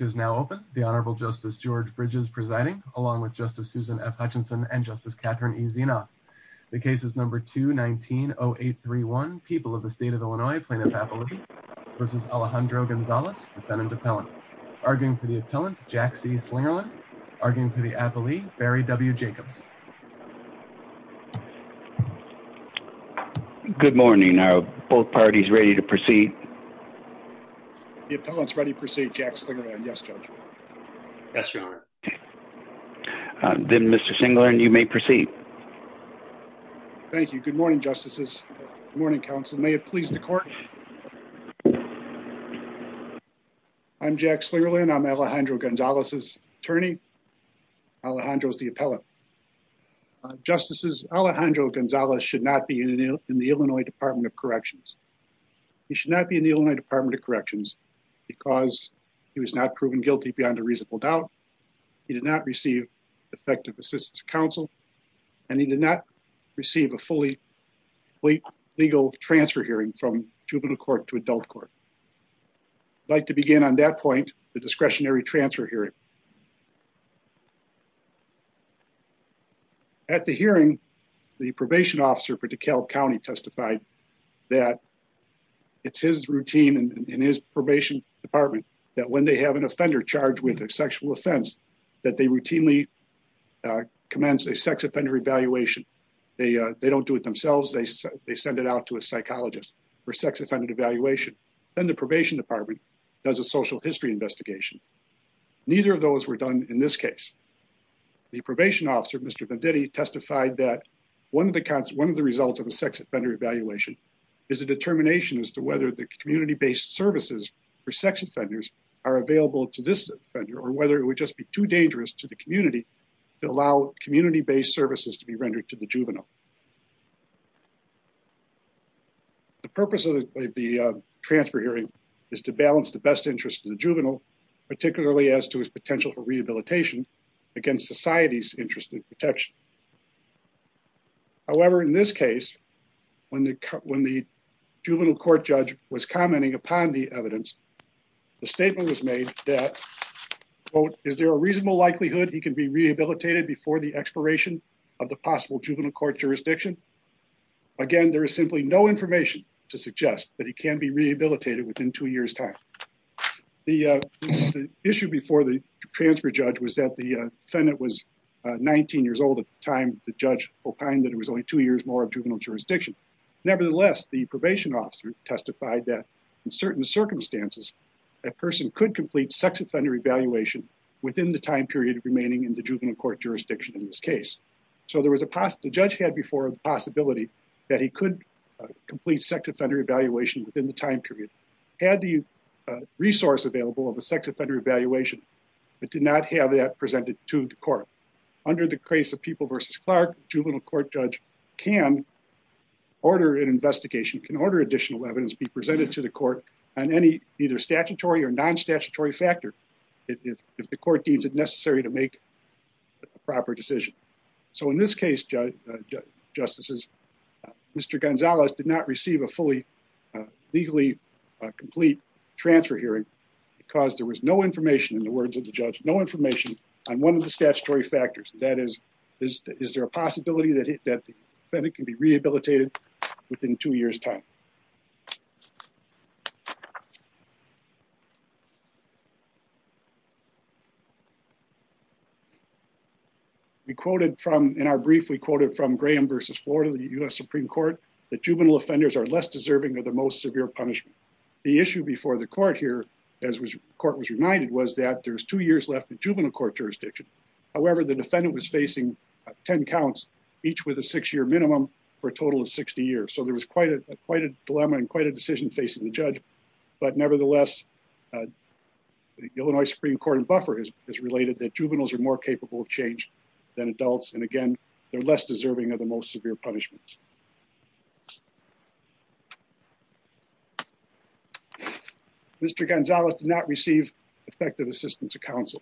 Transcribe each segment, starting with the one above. is now open. The Honorable Justice George Bridges presiding, along with Justice Susan F. Hutchinson and Justice Catherine E. Zenoff. The case is number 219-0831, People of the State of Illinois, Plaintiff's Appellate v. Alejandro Gonzalez, defendant appellant. Arguing for the appellant, Jack C. Flingerland. Arguing for the appellee, Barry W. Jenkins. Good morning. Are both parties ready to proceed? The appellant is ready to proceed, Jack Flingerland. Yes, Judge. Then, Mr. Flingerland, you may proceed. Thank you. Good morning, Justices. Good morning, Counsel. May it please the Court? I'm Jack Flingerland. I'm Alejandro Gonzalez's attorney. Alejandro is the appellant. Justices, Alejandro Gonzalez should not be in the Illinois Department of Corrections. He should not be in the Illinois Department of Corrections because he was not proven guilty beyond a reasonable doubt. He did not receive effective assistance from counsel, and he did not receive a fully legal transfer hearing from juvenile court to adult court. I'd like to begin on that point, the discretionary transfer hearing. At the hearing, the probation officer for DeKalb County testified that it's his routine in his probation department that when they have an offender charged with a sexual offense, that they routinely commence a sex offender evaluation. They don't do it themselves. They send it out to a psychologist for sex offender evaluation. Then the probation department does a social history investigation. Neither of those were done in this case. The probation officer, Mr. Venditti, testified that one of the results of the sex offender evaluation is a determination as to whether the community-based services for sex offenders are available to this offender or whether it would just be too dangerous to the community to allow community-based services to be rendered to the juvenile. The purpose of the transfer hearing is to balance the best interest of the juvenile, particularly as to his potential for rehabilitation against society's interest in protection. However, in this case, when the juvenile court judge was commenting upon the evidence, the statement was made that, quote, is there a juvenile court jurisdiction? Again, there is simply no information to suggest that he can be rehabilitated within two years' time. The issue before the transfer judge was that the defendant was 19 years old at the time the judge opined that it was only two years more of juvenile jurisdiction. Nevertheless, the probation officer testified that in certain circumstances, a person could complete sex offender evaluation within the time period remaining in the juvenile court jurisdiction in this case. So the judge had before a possibility that he could complete sex offender evaluation within the time period. Had the resource available of a sex offender evaluation, it did not have that presented to the court. Under the case of People v. Clark, the juvenile court judge can order an investigation, can order additional evidence be presented to the court on any either statutory or non-statutory factor if the court deems it necessary to make a proper decision. So in this case, justices, Mr. Gonzalez did not receive a fully legally complete transfer hearing because there was no information, in the words of the judge, no information on one of the statutory factors. That is, is there a possibility that the defendant can be rehabilitated within two years' time? We quoted from, in our brief, we quoted from Graham v. Florida, the U.S. Supreme Court, that juvenile offenders are less deserving of the most severe punishment. The issue before the court here, as the court was reminded, was that there's two years left in juvenile court jurisdiction. However, the defendant was facing 10 counts, each with a six-year minimum, for a total of 60 years. So there was quite a dilemma and quite a decision facing the judge, but nevertheless, the Illinois Supreme Court and buffer has related that juveniles are more capable of change than adults, and again, they're less deserving of the most severe punishments. Mr. Gonzalez did not receive effective assistance to counsel.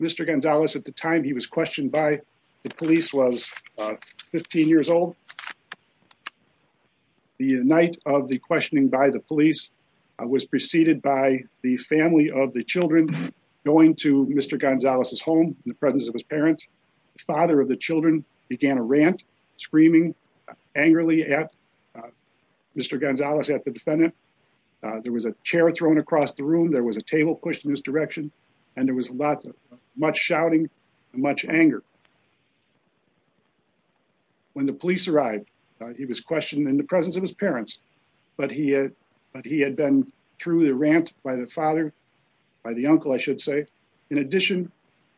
Mr. Gonzalez, at the time he was questioned by the police, was 15 years old. The night of the questioning by the police was preceded by the family of the children going to Mr. Gonzalez's home in the presence of his parents. The father of the children began a rant, screaming angrily at Mr. Gonzalez, at the defendant. There was a chair thrown across the room, there was a table pushed in his direction, and there was much shouting, much anger. When the police arrived, he was questioned in the presence of his parents, but he had been through the rant by the father, by the uncle, I should say. In addition,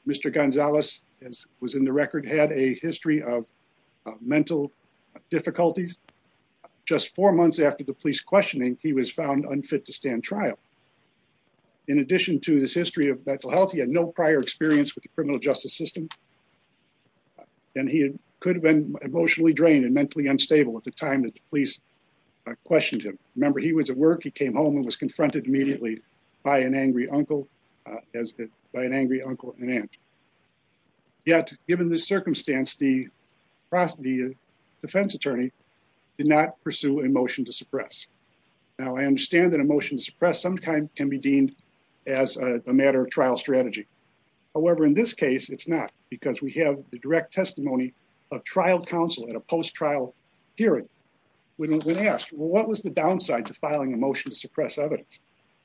Mr. Gonzalez, as was in the record, had a history of mental difficulties. Just four months after the police questioning, he was found unfit to stand trial. In addition to this history of mental health, he had no prior experience with the criminal justice system, and he could have been emotionally drained and mentally unstable at the time that the police questioned him. Remember, he was at work, he came home, and was confronted immediately by an angry uncle, by an angry uncle and aunt. Yet, given the circumstance, the defense attorney did not pursue a motion to suppress. Now, I understand that a motion to suppress sometimes can be deemed as a matter of trial strategy. However, in this case, it's not, because we have the direct testimony of trial counsel at a post-trial hearing, when asked, well, what was the downside to filing a motion to suppress evidence?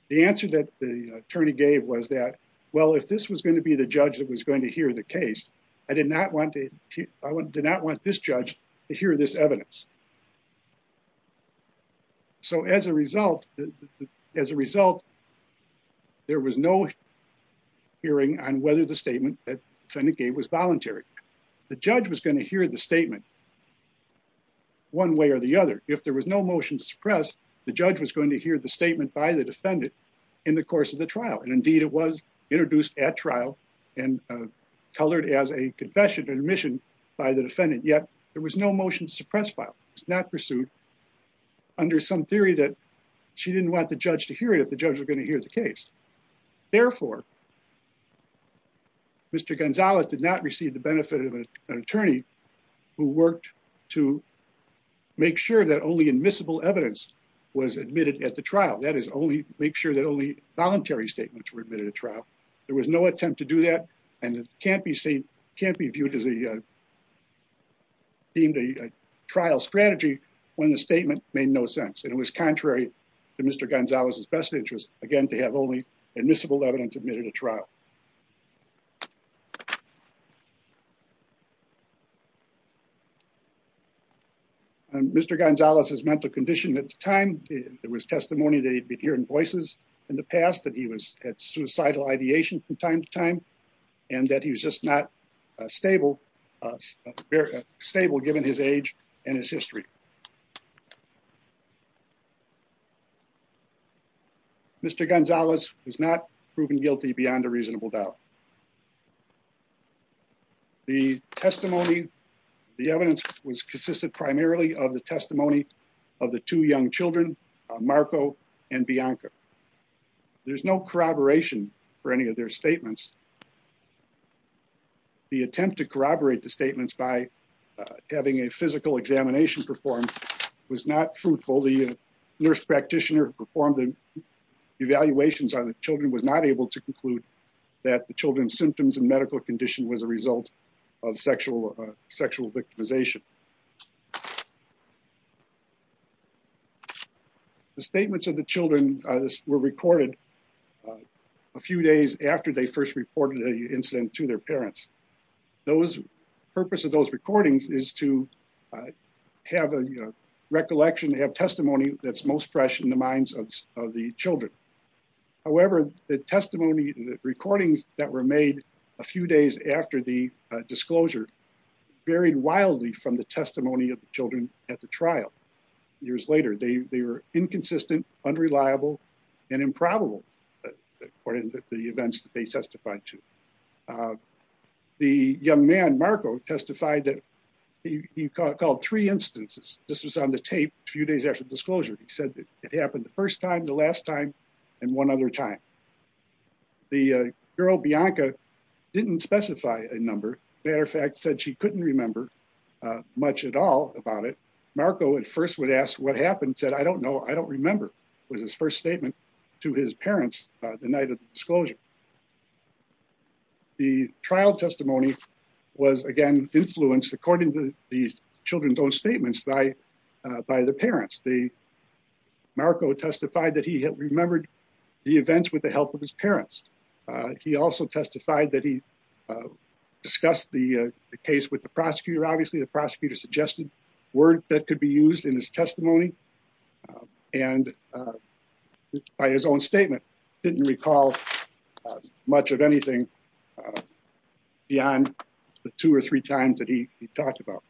The answer that the attorney gave was that, well, if this was going to be the judge that was going to hear the case, I did not want this judge to hear this evidence. So as a result, as a result, there was no hearing on whether the statement that the defendant gave was voluntary. The judge was going to hear the statement one way or the other. If there was no motion to suppress, the judge was going to hear the statement by the defendant in the course of the trial. And indeed, it was there was no motion to suppress file. It was not pursued under some theory that she didn't want the judge to hear it if the judge was going to hear the case. Therefore, Mr. Gonzales did not receive the benefit of an attorney who worked to make sure that only admissible evidence was admitted at the trial. That is, only make sure that only voluntary statements were There was no attempt to do that, and it can't be viewed as a trial strategy when the statement made no sense. And it was contrary to Mr. Gonzales' best interest, again, to have only admissible evidence admitted at trial. Mr. Gonzales' mental condition at the time, there was testimony that he'd been hearing voices in the past, that he was at suicidal ideation from time to time, and that he's just not stable, stable given his age and his history. Mr. Gonzales is not proven guilty beyond a reasonable doubt. The testimony, the evidence primarily of the testimony of the two young children, Marco and Bianca. There's no corroboration for any of their statements. The attempt to corroborate the statements by having a physical examination performed was not truthful. The nurse practitioner who performed the evaluations on the children was not able to conclude that the children's symptoms and medical condition was a result of sexual victimization. The statements of the children were recorded a few days after they first reported the incident to their parents. The purpose of those recordings is to have a recollection, have testimony that's most fresh in the minds of the children. However, the testimony, the recordings that were made a few days after the disclosure varied wildly from the testimony of the children at the trial. Years later, they were inconsistent, unreliable, and improbable according to the events that they testified to. The young man, Marco, testified that he called three instances. This was on the tape a few days after the disclosure. He said that it happened the first time and one other time. The girl, Bianca, didn't specify a number. As a matter of fact, said she couldn't remember much at all about it. Marco, at first, would ask what happened, said, I don't know. I don't remember. It was his first statement to his parents the night of the disclosure. The trial testimony was, again, influenced according to the children's own statements by the parents. Marco testified that he had remembered the events with the help of his parents. He also testified that he discussed the case with the prosecutor. Obviously, the prosecutor suggested words that could be used in his testimony. By his own statement, he didn't recall much of anything beyond the two or three times that he talked about.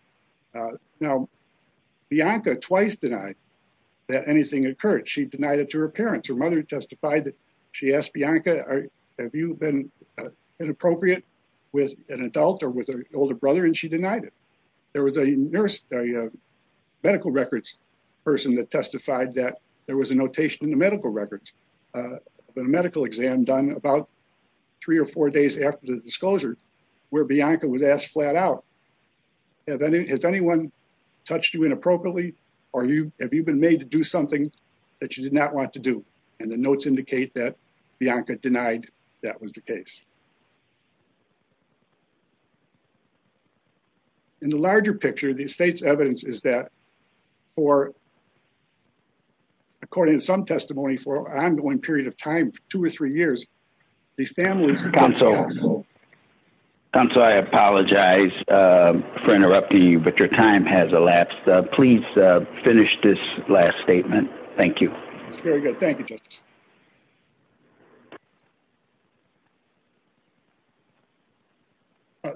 Now, Bianca twice denied that anything occurred. She denied it to her parents. Her mother testified that she asked Bianca, have you been inappropriate with an adult or with an older brother, and she denied it. There was a medical records person that testified that there was a notation in the medical records of a medical exam done about three or four days after the disclosure where Bianca was asked flat out, has anyone touched you inappropriately, or have you been made to do something that you did not want to do, and the notes indicate that Bianca denied that was the case. In the larger picture, the state's evidence is that for, according to some testimony, for an ongoing period of time, two or three years, these families... Counsel, I apologize for interrupting you, but your time has elapsed. Please finish this last statement. Thank you. Very good. Thank you, Justice.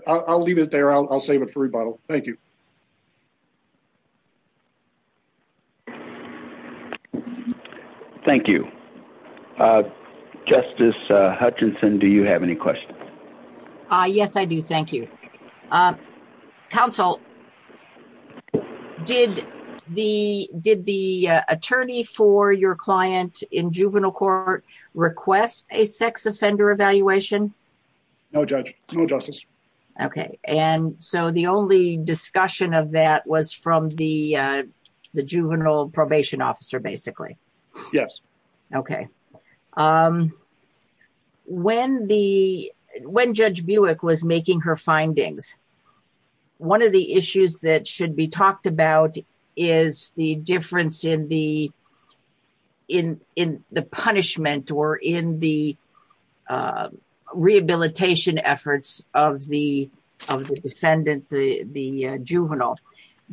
I'll leave it there. I'll save it for rebuttal. Thank you. Thank you. Justice Hutchinson, do you have any questions? Yes, I do. Thank you. Counsel, did the attorney for your client in juvenile court request a sex offender evaluation? No, Judge. No, Justice. Okay. And so the only discussion of that was from the juvenile probation officer, basically? Yes. Okay. When Judge Buick was making her findings, one of the issues that should be talked about is the difference in the punishment or in the rehabilitation efforts of the descendant, the juvenile.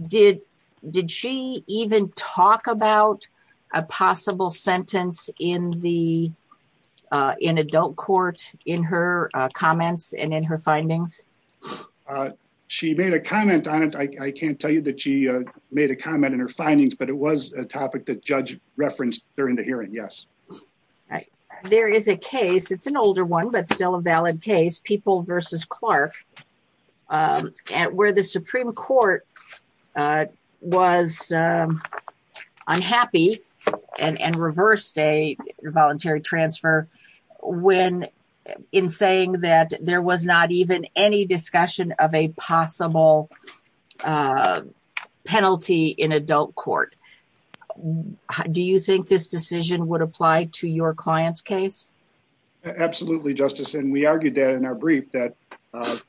Did she even talk about a possible sentence in adult court in her comments and in her findings? She made a comment on it. I can't tell you that she made a comment in her findings, but it was a topic that Judge referenced during the hearing. Yes. Right. There is a case, it's an older one, but still a valid case, People v. Clark, where the Supreme Court was unhappy and reversed a voluntary transfer in saying that there was not even any discussion of a possible penalty in adult court. Do you think this decision would apply to your client's case? Absolutely, Justice. And we argued that in our brief that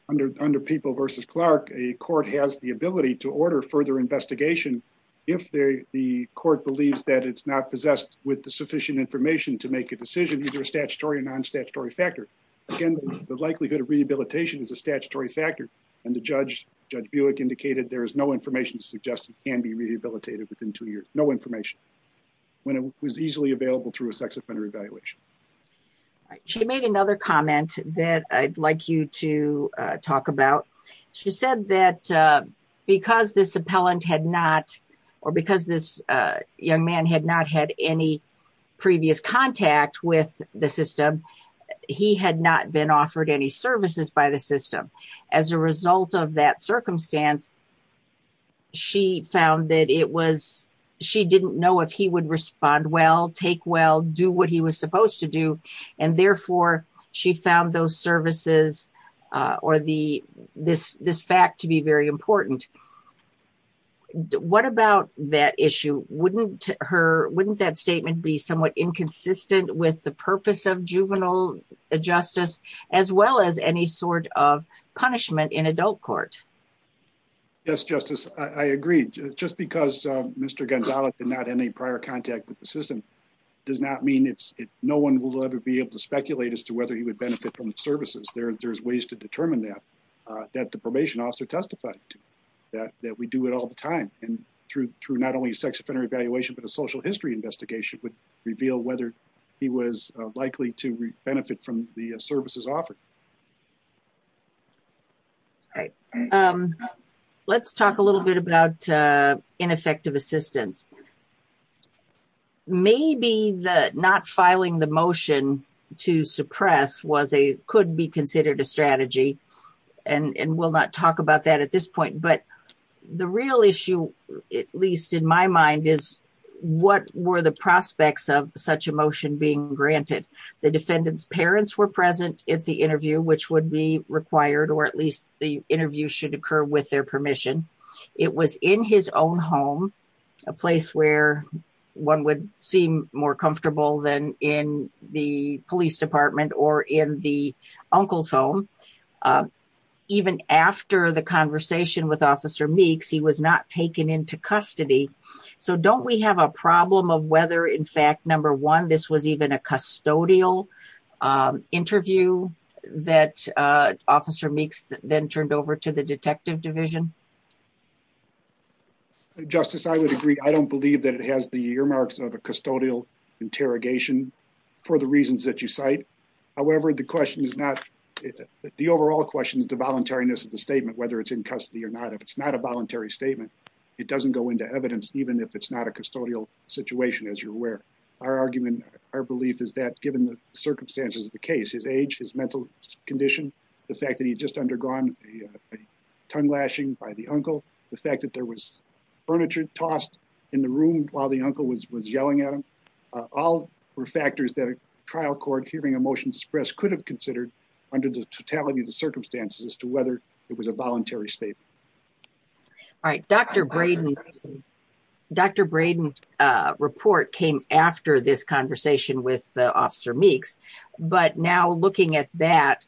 under People v. Clark, a court has the ability to order further investigation if the court believes that it's not possessed with the sufficient information to make a decision, either statutory or non-statutory factor. Again, the likelihood of rehabilitation is a statutory factor. And Judge Buick indicated there is no information to suggest it can be rehabilitated within two years, no information, when it was easily available through a sex offender evaluation. She made another comment that I'd like you to talk about. She said that because this young man had not had any previous contact with the system, he had not been offered any services by the system. As a result of that circumstance, she found that it was, she didn't know if he would respond well, take well, do what he was supposed to do, and therefore she found those services or this fact to be very important. What about that issue? Wouldn't that statement be somewhat inconsistent with the purpose of juvenile justice, as well as any sort of punishment in adult court? Yes, Justice, I agree. Just because Mr. Gonzales did not have any prior contact with the system does not mean no one will ever be able to speculate as to whether he would benefit from the services. There's ways to determine that, that the probation officer testified to, that we do it all the time. And through not only a sex offender evaluation, but a social history investigation would reveal whether he was likely to benefit from the services offered. All right. Let's talk a little bit about ineffective assistance. Maybe not filing the motion to suppress could be considered a strategy, and we'll not talk about that at this point, but the real issue, at least in my mind, is what were the prospects of such a motion being granted? The officer did not have an interview, which would be required, or at least the interview should occur with their permission. It was in his own home, a place where one would seem more comfortable than in the police department or in the uncle's home. Even after the conversation with Officer Meeks, he was not taken into custody. So don't we have a problem of whether, in fact, number one, this was even a custodial interview that Officer Meeks then turned over to the detective division? Justice, I would agree. I don't believe that it has the earmarks of a custodial interrogation for the reasons that you cite. However, the question is not, the overall question is the voluntariness of the statement, whether it's in custody or not. If it's not a voluntary statement, it doesn't go into evidence, even if it's not a custodial situation, as you're aware. Our argument, our belief is that, given the circumstances of the case, his age, his mental condition, the fact that he had just undergone a tongue lashing by the uncle, the fact that there was furniture tossed in the room while the uncle was yelling at him, all were factors that a trial court hearing a motion to suppress could have considered under the totality of the circumstances as to whether it was a voluntary statement. All right. Dr. Braden, Dr. Braden's report came after this conversation with Officer Meeks. But now looking at that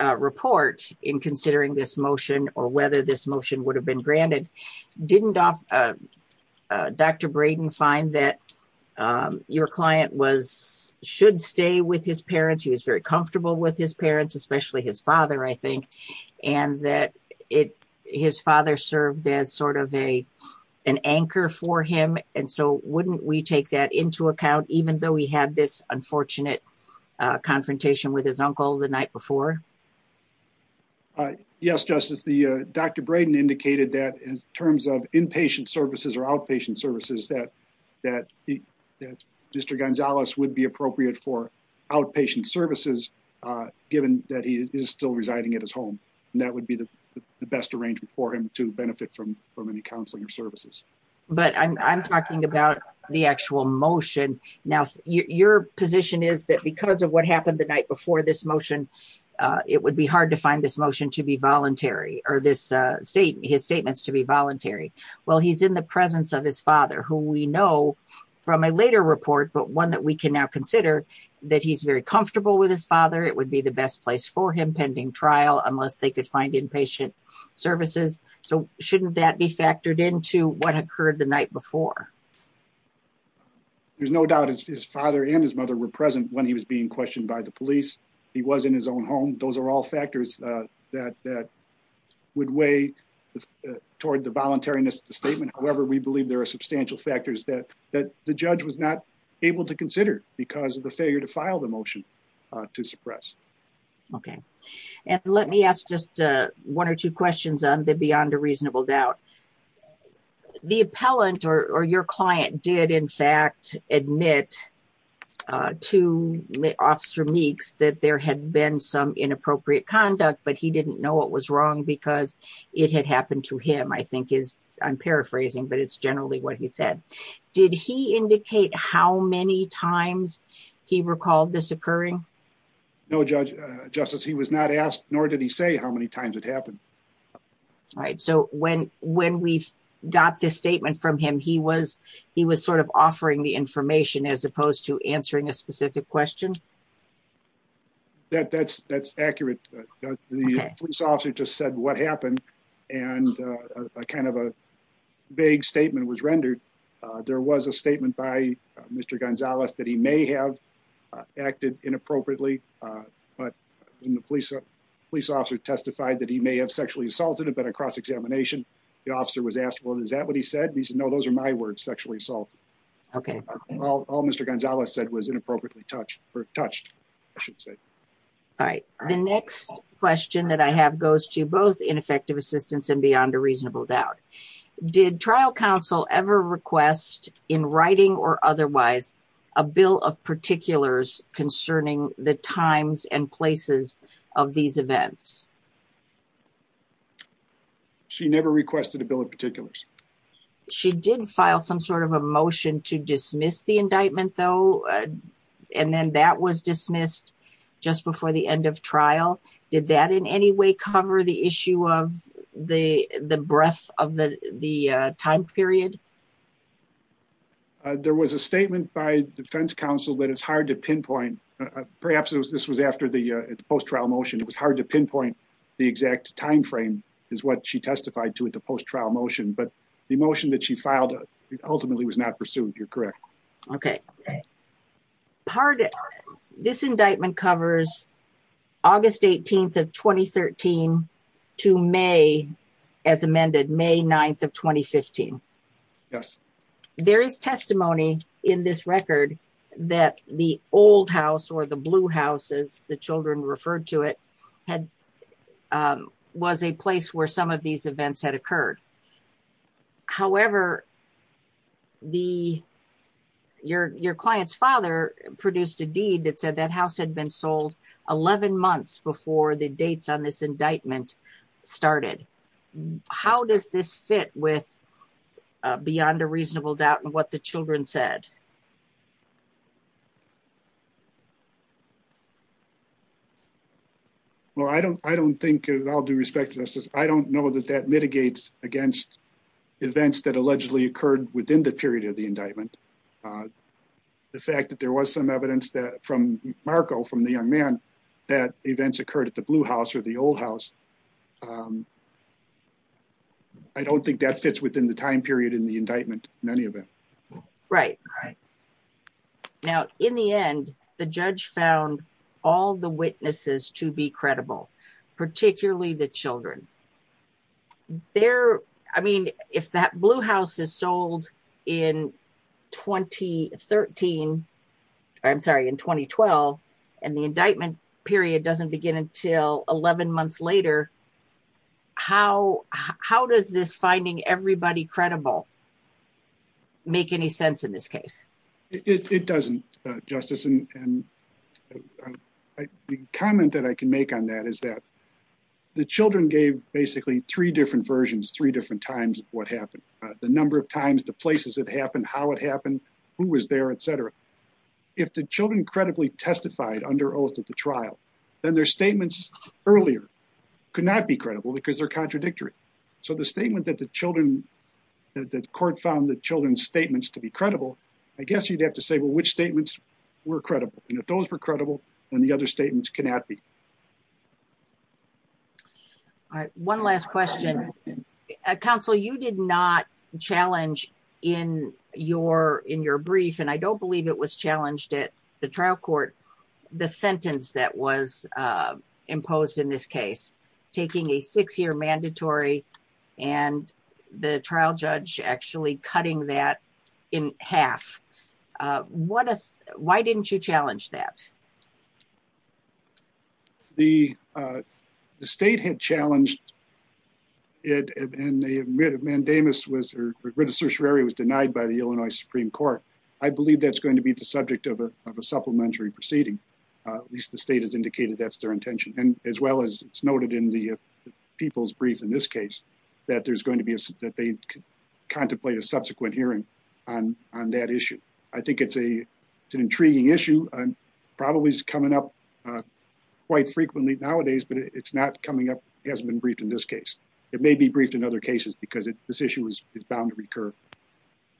report in considering this motion or whether this motion would have been granted, didn't Dr. Braden find that your client was, should stay with his parents, he was very concerned that his father served as sort of an anchor for him. And so wouldn't we take that into account even though he had this unfortunate confrontation with his uncle the night before? Yes, Justice. Dr. Braden indicated that in terms of inpatient services or outpatient services, that Mr. Gonzalez would be appropriate for outpatient services, given that he is still residing at his home. And that would be the best arrangement for him to benefit from any counseling or services. But I'm talking about the actual motion. Now, your position is that because of what happened the night before this motion, it would be hard to find this motion to be voluntary or his statements to be voluntary. Well, he's in the presence of his father, who we know from a later report, but one that we can now consider that he's very comfortable with his father. It would be the best place for him pending trial unless they could find inpatient services. So shouldn't that be factored into what occurred the night before? There's no doubt his father and his mother were present when he was being questioned by the police. He was in his own home. Those are all factors that would weigh toward the voluntariness of the statement. However, we believe there are substantial factors that the judge was not able to consider because of the failure to file the motion to suppress. Okay. And let me ask just one or two questions on the beyond a reasonable doubt. The appellant or your client did, in fact, admit to Officer Meeks that there had been some inappropriate conduct, but he didn't know what was wrong because it had happened to him, I think is, I'm paraphrasing, but it's generally what he said. Did he indicate how many times he recalled this occurring? No, Justice. He was not asked, nor did he say how many times it happened. All right. So when we got this statement from him, he was sort of offering the information as opposed to answering a specific question? That's accurate. The police officer just said what happened and kind of a vague statement was rendered. There was a statement by Mr. Gonzalez that he may have acted inappropriately, but the police officer testified that he may have sexually assaulted him. But across examination, the officer was asked, well, is that what he said? He said, no, those are my words, sexually assault. Okay. All Mr. Gonzalez said was inappropriately touched, or touched, I should say. All right. The next question that I have goes to both ineffective assistance and beyond a reasonable doubt. Did trial counsel ever request in writing or otherwise a bill of particulars concerning the times and places of these events? She did file some sort of a motion to dismiss the indictment, though, and then that was dismissed just before the end of trial. Did that in any way cover the issue of the breadth of the time period? There was a statement by defense counsel that it's hard to pinpoint. Perhaps this was after the post-trial motion. It was hard to pinpoint the exact time frame is what she testified to at the post-trial motion, but the motion that she filed ultimately was not pursued. You're correct. Okay. This indictment covers August 18th of 2013 to May, as amended, May 9th of 2015. Yes. There is testimony in this record that the old house or the blue house, as the children referred to it, was a place where some of these events had occurred. However, your client's father produced a deed that said that house had been sold 11 months before the dates on this indictment started. How does this fit with Beyond a Reasonable Doubt and what the children said? Well, I don't think, with all due respect, Justice, I don't know that that mitigates against events that allegedly occurred within the period of the indictment. The fact that there was some evidence from Marco, from the young man, that events occurred at the blue house or the old house, I don't think that fits within the time period in the indictment in any event. Right. Right. Now, in the end, the judge found all the witnesses to be credible, particularly the children. I mean, if that blue house is sold in 2013, I'm sorry, in 2012, and the indictment period doesn't begin until 11 months later, how does this finding everybody credible make any sense in this case? The comment that I can make on that is that the children gave basically three different versions, three different times of what happened. The number of times, the places it happened, how it happened, who was there, et cetera. If the children credibly testified under oath at the trial, then their statements earlier could not be credible because they're contradictory. So the statement that the children, that the court found the children's statements to be credible, I guess you'd have to say, well, which statements were credible? And if those were credible, then the other statements cannot be. All right. One last question. Counsel, you did not challenge in your brief, and I don't believe it was challenged at the trial court, the sentence that was imposed in this case, taking a six-year mandatory and the trial judge actually cutting that in half. Why didn't you challenge that? The state had challenged it, and the mandamus was denied by the Illinois Supreme Court. I believe that's going to be the subject of a supplementary proceeding. At least the state has indicated that's their intention, as well as it's noted in the people's brief in this case that there's going to be, that they contemplate a subsequent hearing on that issue. I think it's an intriguing issue. Probably is coming up quite frequently nowadays, but it's not coming up, hasn't been briefed in this case. It may be briefed in other cases because this issue is bound to recur.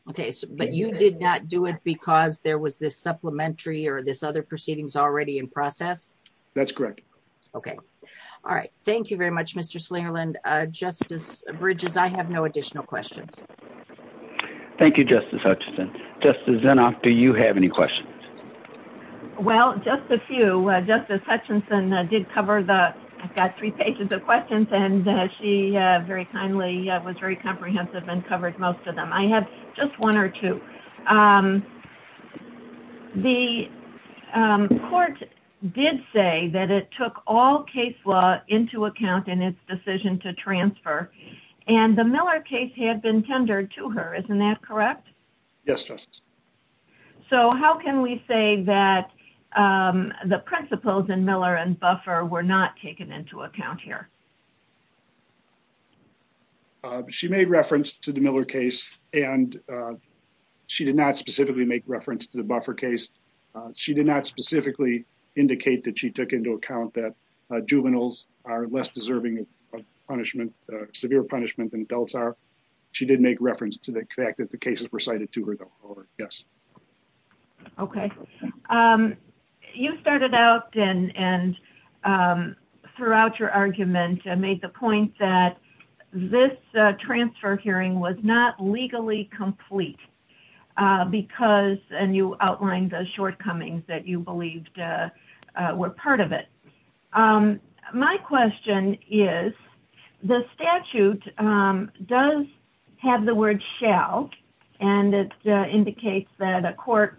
Okay. But you did not do it because there was this supplementary or this other proceedings already in process? That's correct. Okay. All right. Thank you very much, Mr. Slingerland. Justice Bridges, I have no additional questions. Thank you, Justice Hutchison. Justice Zinoff, do you have any questions? Well, just a few. Justice Hutchison did cover the three pages of questions, and she very kindly was very comprehensive and covered most of them. I have just one or two. The court did say that it took all case law into account in its decision to transfer, and the Miller case had been tendered to her. Isn't that correct? Yes, Justice. So how can we say that the principles in Miller and Buffer were not taken into account here? She made reference to the Miller case, and she did not specifically make reference to the Buffer case. She did not specifically indicate that she took into account that juveniles are less deserving of punishment, severe punishment, than adults are. She did make reference to the fact that the cases were cited to her. Yes. Okay. You started out and throughout your argument made the point that this transfer hearing was not legally complete because, and you outlined the shortcomings that you believed were part of it. My question is, the statute does have the word shall, and it indicates that a court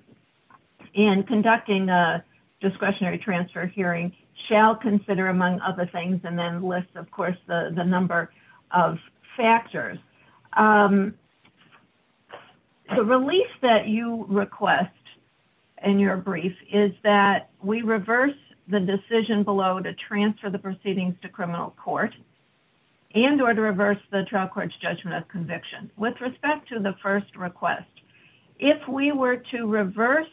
in conducting a discretionary transfer hearing shall consider, among other things, and then lists, of course, the number of factors. The release that you request in your brief is that we reverse the decision below to transfer the proceedings to criminal court and or to reverse the trial court's judgment of conviction. With respect to the first request, if we were to reverse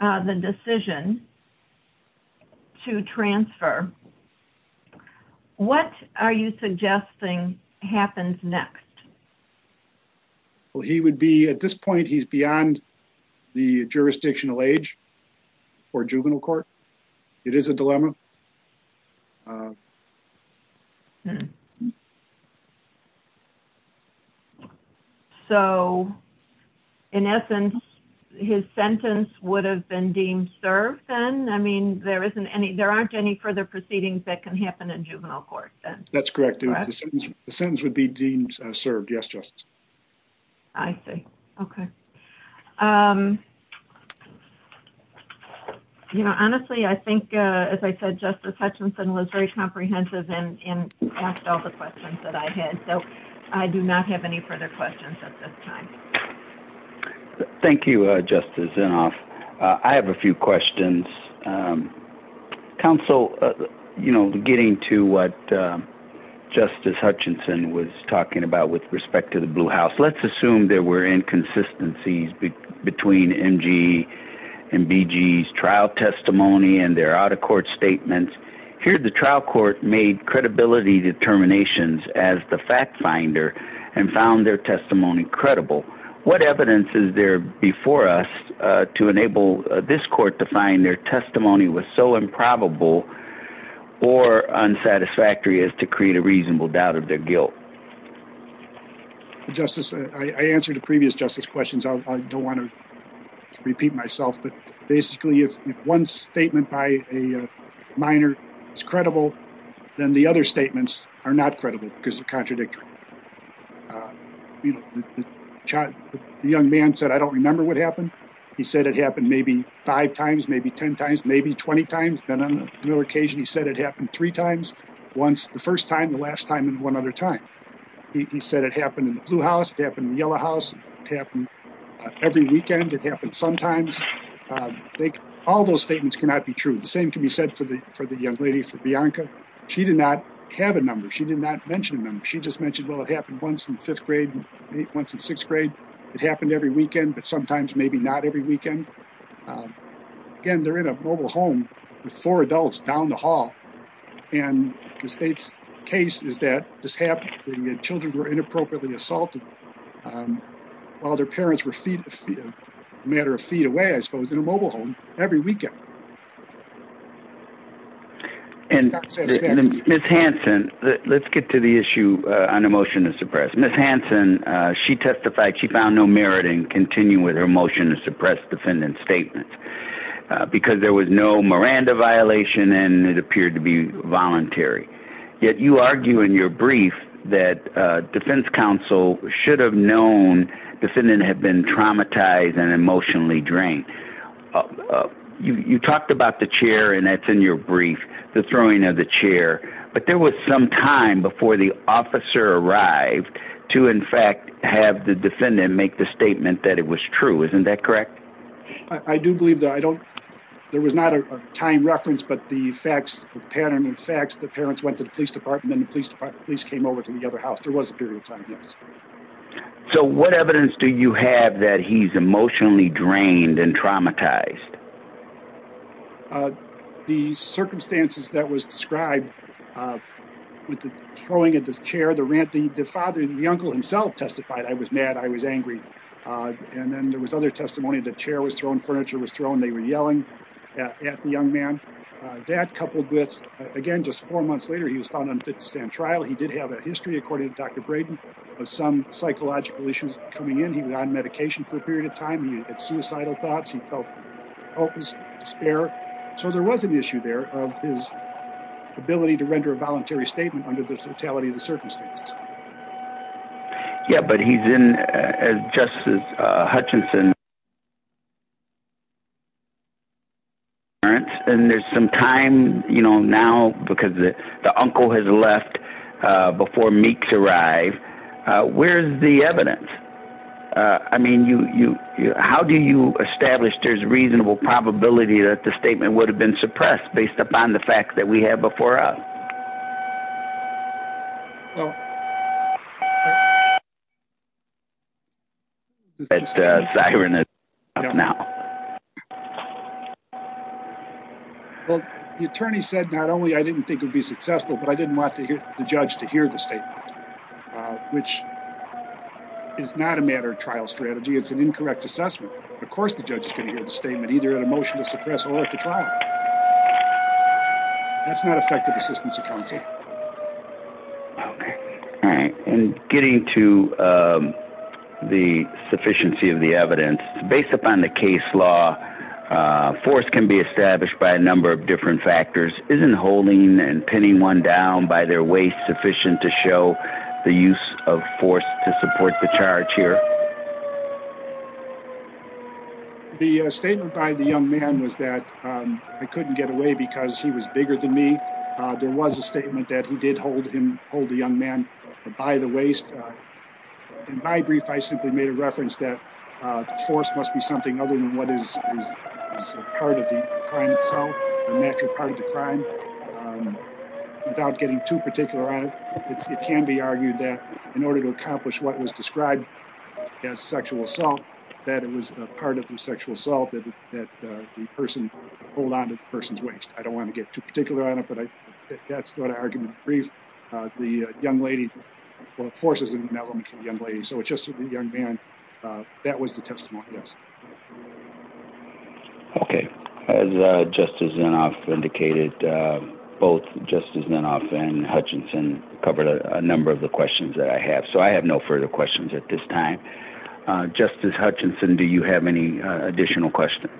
the decision to transfer, what are you suggesting happens next? Well, he would be, at this point, he's beyond the jurisdictional age for juvenile court. It is a dilemma. So, in essence, his sentence would have been deemed served then? I mean, there aren't any further proceedings that can happen in juvenile court then? That's correct. The sentence would be deemed served. Yes, Justice. I see. Okay. Honestly, I think, as I said, Justice Hutchinson was very comprehensive and asked all the questions that I had. So, I do not have any further questions at this time. Thank you, Justice Inhofe. I have a few questions. Counsel, you know, getting to what Justice Hutchinson was talking about with respect to the Blue House, let's assume there were inconsistencies between M.G. and B.G.'s trial testimony and their out-of-court statements. Here, the trial court made credibility determinations as the fact finder and found their testimony credible. What evidence is there before us to enable this court to find their testimony was so improbable or unsatisfactory as to create a reasonable doubt of their guilt? Justice, I answered the previous Justice's questions. I don't want to repeat myself, but basically, if one statement by a minor is credible, then the other statements are not credible because they contradict. The young man said, I don't remember what happened. He said it happened maybe five times, maybe ten times, maybe twenty times. And on occasion, he said it happened three times, the first time, the last time, and one other time. He said it happened in the Blue House, it happened in the Yellow House, it happened every weekend, it happened sometimes. All those statements cannot be true. The same can be said for the young lady, for Bianca. She did not have a number, she did not mention a number. She just mentioned, well, it happened once in fifth grade, once in sixth grade. It happened every weekend, but sometimes maybe not every weekend. Again, they're in a mobile home with four adults down the hall. And the state's case is that this happened when the children were inappropriately assaulted while their parents were a matter of feet away, I suppose, in a mobile home every weekend. And Ms. Hanson, let's get to the issue on the motion to suppress. Ms. Hanson, she testified she found no merit in continuing with her motion to suppress defendant's statement because there was no Miranda violation and it appeared to be voluntary. Yet you argue in your brief that defense counsel should have known the defendant had been traumatized and emotionally drained. You talked about the chair, and that's in your brief, the throwing of the chair. But there was some time before the officer arrived to, in fact, have the defendant make the statement that it was true. Isn't that correct? I do believe that. There was not a time reference, but the facts, the pattern of facts, the parents went to the police department and the police came over to the other house. There was a period of time, yes. So what evidence do you have that he's emotionally drained and traumatized? The circumstances that was described with the throwing of the chair, the rant, the father, the uncle himself testified, I was mad, I was angry. And then there was other testimony, the chair was thrown, furniture was thrown, they were yelling at the young man. That coupled with, again, just four months later, he was found unfit to stand trial. He did have a history, according to Dr. Braden, of some psychological issues coming in. He was on medication for a period of time. He had suicidal thoughts. He felt hopeless despair. So there was an issue there of his ability to render a voluntary statement under the totality of the circumstances. Yeah, but he's in, as Justice Hutchinson said, and there's some time now because the uncle has left before Meeks arrived. Where's the evidence? I mean, how do you establish there's reasonable probability that the statement would have been suppressed based upon the facts that we have before us? Well, the attorney said not only I didn't think it would be successful, but I didn't want the judge to hear the statement, which is not a matter of trial strategy. It's an incorrect assessment. Of course the judge stated in the statement either he had a motion to suppress or left the trial. That's not effective assistance, I can tell you. Okay. All right. In getting to the sufficiency of the evidence, based upon the case law, force can be established by a number of different factors. Isn't holding and pinning one down by their waist sufficient to show the use of force to support the charge here? The statement by the young man was that I couldn't get away because he was bigger than me. There was a statement that he did hold the young man by the waist. In my brief, I simply made a reference that force must be something other than what is part of the crime itself, a natural part of the crime, without getting too particular on it. It can be argued that in order to accomplish what was described as sexual assault, that it was part of the sexual assault that the person hold on to the person's waist. I don't want to get too particular on it, but that's what I argued in the brief. The young lady, the force is an element to the young lady, so it's just the young man. That was the testimony, yes. Okay. As Justice Zinoff indicated, both Justice Zinoff and Hutchinson covered a number of the questions that I have, so I have no further questions at this time. Justice Hutchinson, do you have any additional questions?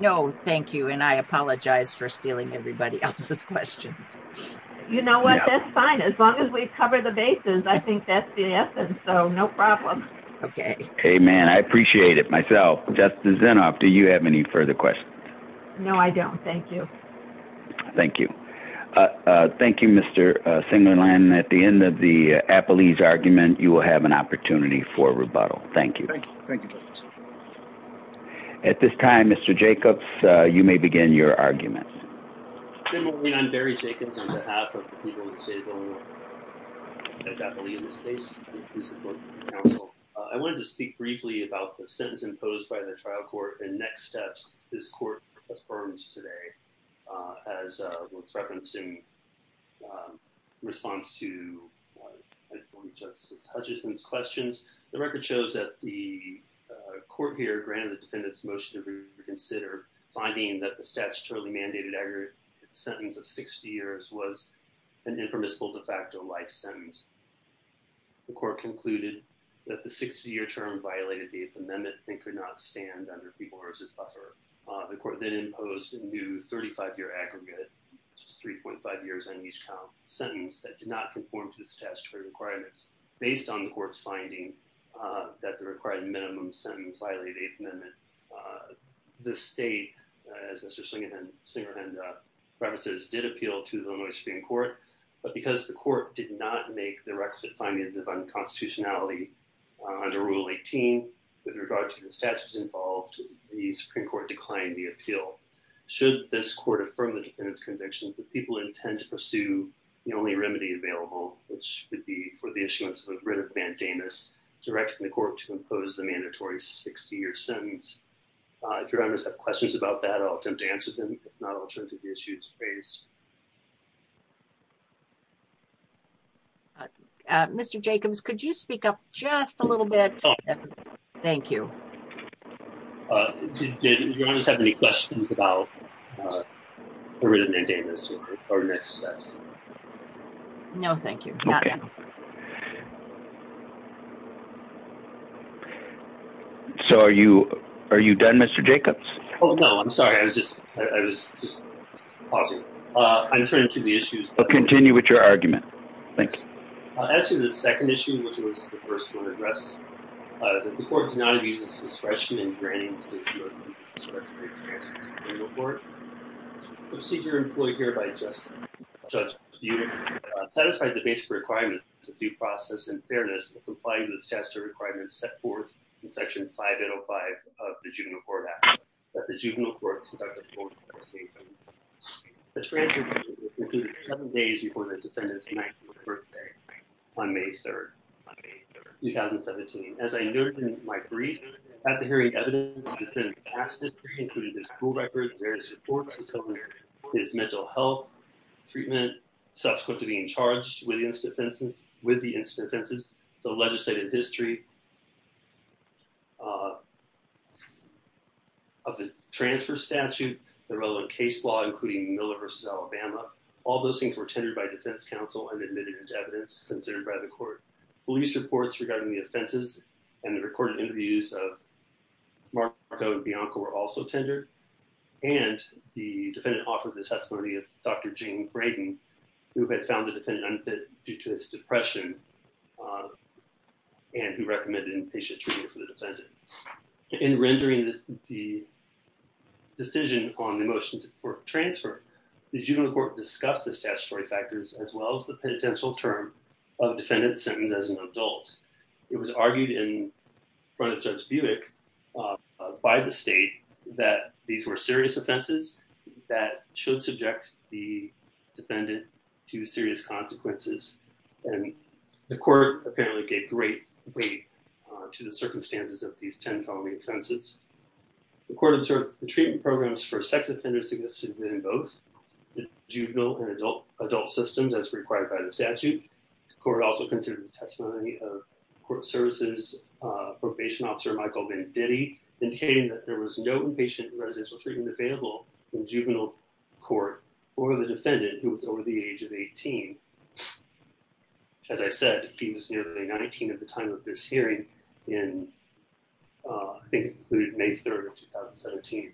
No, thank you, and I apologize for stealing everybody else's questions. You know what? That's fine. As long as we cover the bases, I think that's the essence, so no problem. Okay. Amen. I appreciate it myself. Well, Justice Zinoff, do you have any further questions? No, I don't. Thank you. Thank you. Thank you, Mr. Singerland. At the end of the Appellee's argument, you will have an opportunity for rebuttal. Thank you. Thank you. At this time, Mr. Jacobs, you may begin your argument. Good morning. I'm Barry Jacobs on behalf of the Legal Disabled and Appellee in this case. I wanted to speak briefly about the sentence imposed by the trial court and next steps this court affirms today. As was referenced in response to Judge Hutchinson's questions, the record shows that the court here granted the defendant's motion to reconsider, finding that the statutory mandated aggregate sentence of 60 years was an impermissible de facto life sentence. The court concluded that the 60-year term violated the Eighth Amendment and could not stand under people versus buffer. The court then imposed a new 35-year aggregate, 3.5 years on each count, sentence that did not conform to the statutory requirements. Based on the court's finding that the required minimum sentence violated the Eighth Amendment, the state, as Mr. Singerland referenced, did appeal to the Illinois Supreme Court. But because the court did not make the requisite findings of unconstitutionality under Rule 18 with regard to the statutes involved, the Supreme Court declined the appeal. Should this court affirm the defendant's conviction, would people intend to pursue the only remedy available, which would be for the issuance of a writ of bandanas, directing the court to impose the mandatory 60-year sentence? If your honors have questions about that, I'll attempt to answer them. If not, I'll turn to the issues raised. Mr. Jacobs, could you speak up just a little bit? Thank you. Do your honors have any questions about the writ of bandanas? No, thank you. So are you done, Mr. Jacobs? Oh, no, I'm sorry. I was just pausing. I'm turning to the issues. Continue with your argument. Thank you. I'll answer the second issue, which was the first one addressed. If the court does not use discretion in granting the statute of limitations to the juvenile court, the procedure employed hereby adjusts the unit to satisfy the basic requirements of due process and fairness in complying with the statutory requirements set forth in Section 5805 of the Juvenile Court Act that the juvenile court conduct a formal investigation. The transgression included seven days before the defendant's 19th birthday on May 3rd, 2017. As I noted in my brief, after hearing evidence of the defendant's past history, including his school records, various reports, his covenants, his mental health, treatment, subsequent to being charged with the incident offenses, the legislative history of the transfer statute, the relevant case law, including Miller v. Alabama, all those things were tendered by defense counsel and admitted as evidence considered by the court. Police reports regarding the offenses and the recorded interviews of Marco and Bianca were also tendered, and the defendant offered the testimony of Dr. Gene Brayden, who had found the defendant unfit due to his depression, and he recommended inpatient treatment for the defendant. In rendering the decision on the motion to court transfer, the juvenile court discussed the statutory factors as well as the potential term of defendant serving as an adult. It was argued in front of Judge Buick by the state that these were serious offenses that should subject the defendant to serious consequences, and the court apparently gave great weight to the circumstances of these 10 felony offenses. The court observed the treatment programs for sex offenders to get submitted in both the juvenile and adult systems as required by the statute. The court also considered the testimony of court services probation officer Michael Menditti, indicating that there was no inpatient residential treatment available in juvenile court for the defendant who was over the age of 18. As I said, he was nearly 19 at the time of this hearing, and I think it was May 3, 2017.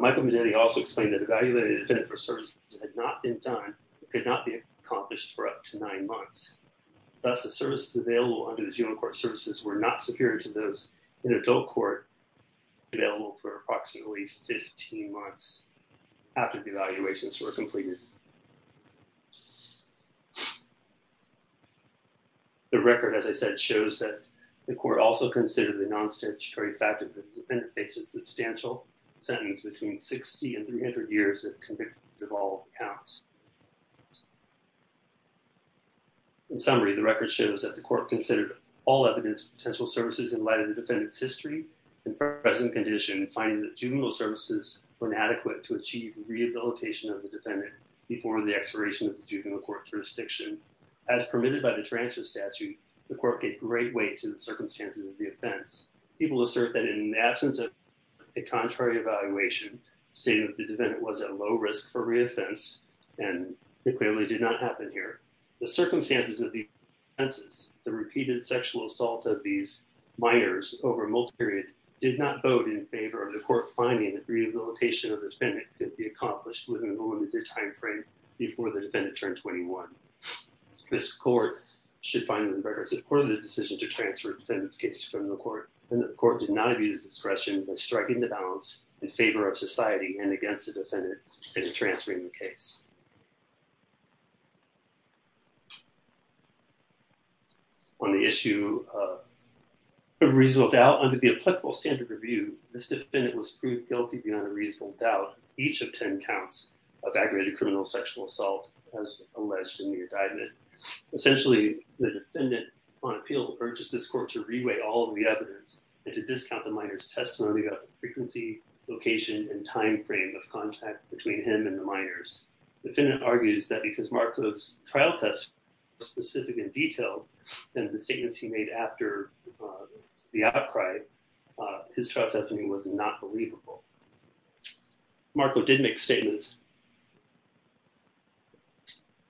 Michael Menditti also explained that the evaluation of the defendant for services that had not been done could not be accomplished for up to nine months. Thus, the services available under the juvenile court services were not superior to those in adult court available for approximately 15 months after the evaluations were completed. The record, as I said, shows that the court also considered the non-statutory factors that the defendant faced a substantial sentence between 60 and 300 years if convicted of all counts. In summary, the record shows that the court considered all evidence of potential services in light of the defendant's history and present condition, finding that juvenile services were inadequate to achieve rehabilitation of the defendant before the expiration of the juvenile court jurisdiction. As permitted by the transfer statute, the court gave great weight to the circumstances of the offense. People assert that in the absence of a contrary evaluation, stating that the defendant was at low risk for re-offense, and it clearly did not happen here. The circumstances of the offenses, the repeated sexual assault of these minors over a multi-period, did not vote in favor of the court finding that rehabilitation of the defendant could be accomplished within the limited time frame before the defendant turned 21. This court should find that the record supports the decision to transfer the defendant's case to criminal court, and the court did not view the discretion of striking the balance in favor of society and against the defendant in transferring the case. On the issue of reasonable doubt, under the applicable standard of view, this defendant was proved guilty beyond a reasonable doubt in each of 10 counts of aggravated criminal sexual assault as alleged in the indictment. Essentially, the defendant, on appeal, urges this court to re-weigh all of the evidence and to discount the minor's testimony about the frequency, location, and time frame of contact between him and the minors. The defendant argues that because Marco's trial testimony was specific and detailed, and the statements he made after the outcry, his trial testimony was not believable. Marco did make statements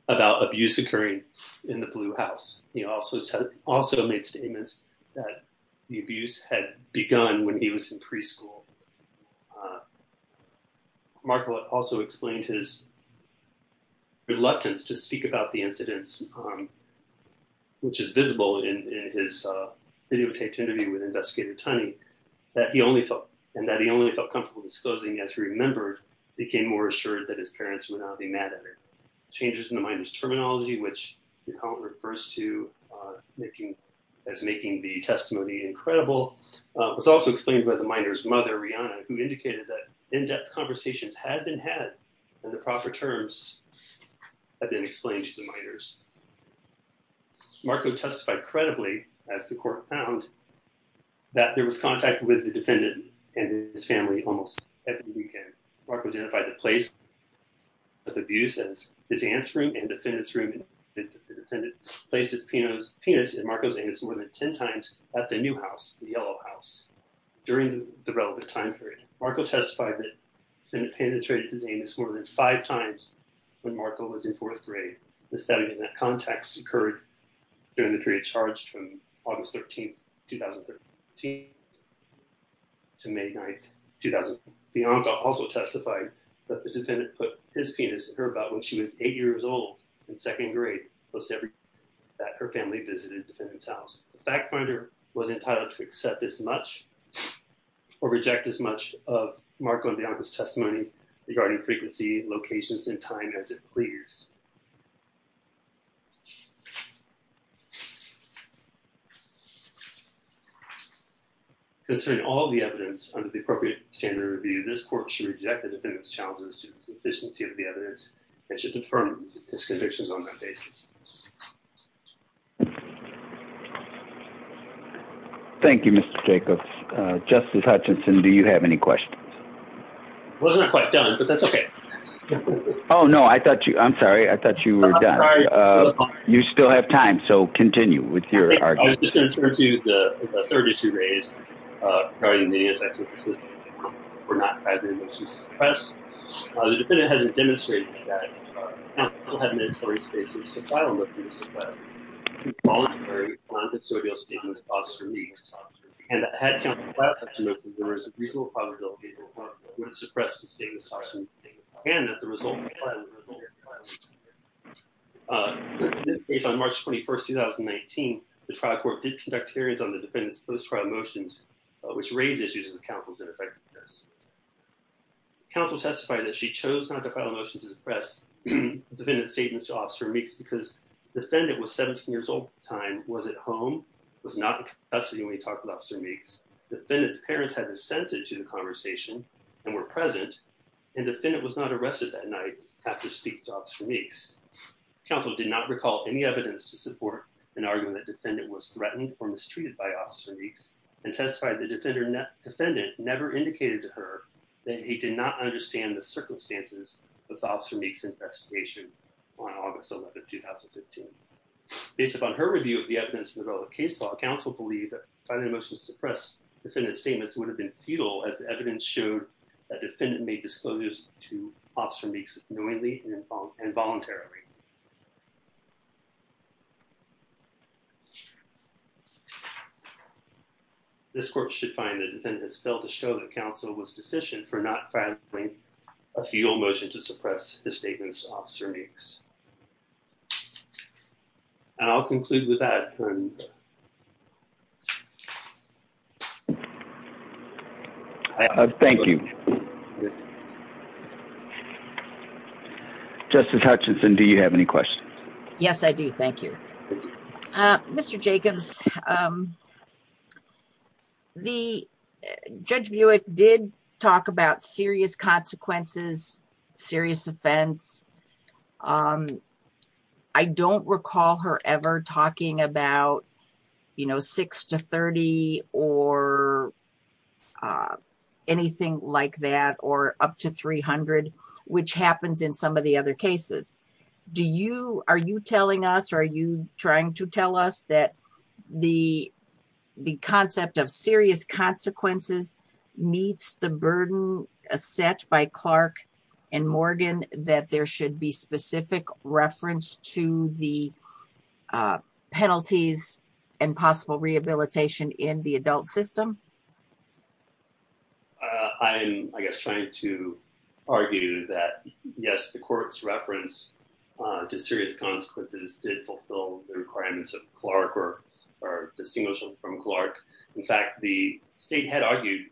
about abuse occurring in the Blue House. He also made statements that the abuse had begun when he was in preschool. Marco also explained his reluctance to speak about the incidents, which is visible in his video testimony with Investigator Tunney, and that he only felt comfortable disclosing as he remembered, became more assured that his parents would not be mad at him. Marco also made changes in the minor's terminology, which is how it refers to making the testimony incredible. It was also explained by the minor's mother, Rihanna, who indicated that in-depth conversations had been had in the proper terms had been explained to the minors. Marco testified credibly, as the court found, that there was contact with the defendant and his family almost every weekend. Marco identified the place of abuse as his aunt's room and the defendant's room. Marco testified that the defendant placed his penis in Marco's anus more than ten times at the New House, the Yellow House, during the relevant time period. Marco testified that the defendant penetrated his anus more than five times when Marco was in fourth grade. Marco also testified that the defendant put his penis in her butt when she was eight years old in second grade, plus every weekend that her family visited the defendant's house. The fact finder was entitled to accept as much or reject as much of Marco and Bianca's testimony regarding frequency, locations, and time as it pleased. Concerning all the evidence under the appropriate standard of review, this court should reject the defendant's challenges to the efficiency of the evidence and should confirm his convictions on that basis. Thank you, Mr. Jacobs. Justice Hutchinson, do you have any questions? I wasn't quite done, but that's okay. Oh, no, I thought you were done. You still have time, so continue with your argument. I was just going to turn to the third issue raised regarding the effects of persistent trauma for not having a motion to suppress. The defendant has demonstrated that counsel had mandatory spaces to file motions to suppress voluntary, quantitative, and stainless-steel, and that had counsel left, there was a reasonable probability that Marco would have suppressed the stainless-steel motion and that the resulting plan would have been more effective. Based on March 21st, 2019, the trial court did conduct hearings on the defendant's post-trial motions, which raised issues with counsel's ineffectiveness. Counsel testified that she chose not to file a motion to suppress the defendant's statements to Officer Meeks because the defendant was 17 years old at the time, was at home, was not in custody when he talked with Officer Meeks, the defendant's parents had assented to the conversation and were present, and the defendant was not arrested that night after speaking to Officer Meeks. Counsel did not recall any evidence to support an argument that the defendant was threatened or mistreated by Officer Meeks, and testified that the defendant never indicated to her that he did not understand the circumstances of Officer Meeks' investigation on August 11, 2015. Based upon her review of the evidence with all the case law, counsel believed that filing a motion to suppress the defendant's statements would have been futile as the evidence showed that the defendant made disclosures to Officer Meeks knowingly and voluntarily. This court should find the defendant has failed to show that counsel was deficient for not filing a futile motion to suppress the statement of Officer Meeks. And I'll conclude with that. Thank you. Justice Hutchinson, do you have any questions? Yes, I do. Thank you. Mr. Jacobs, Judge Buick did talk about serious consequences, serious offense. I don't recall her ever talking about, you know, 6 to 30 or anything like that, or up to 300, which happens in some of the other cases. Are you telling us or are you trying to tell us that the concept of serious consequences meets the burden set by Clark and Morgan, that there should be specific reference to the penalties and possible rehabilitation in the adult system? I'm, I guess, trying to argue that, yes, the court's reference to serious consequences did fulfill the requirements of Clark or are distinguishable from Clark. In fact, the state had argued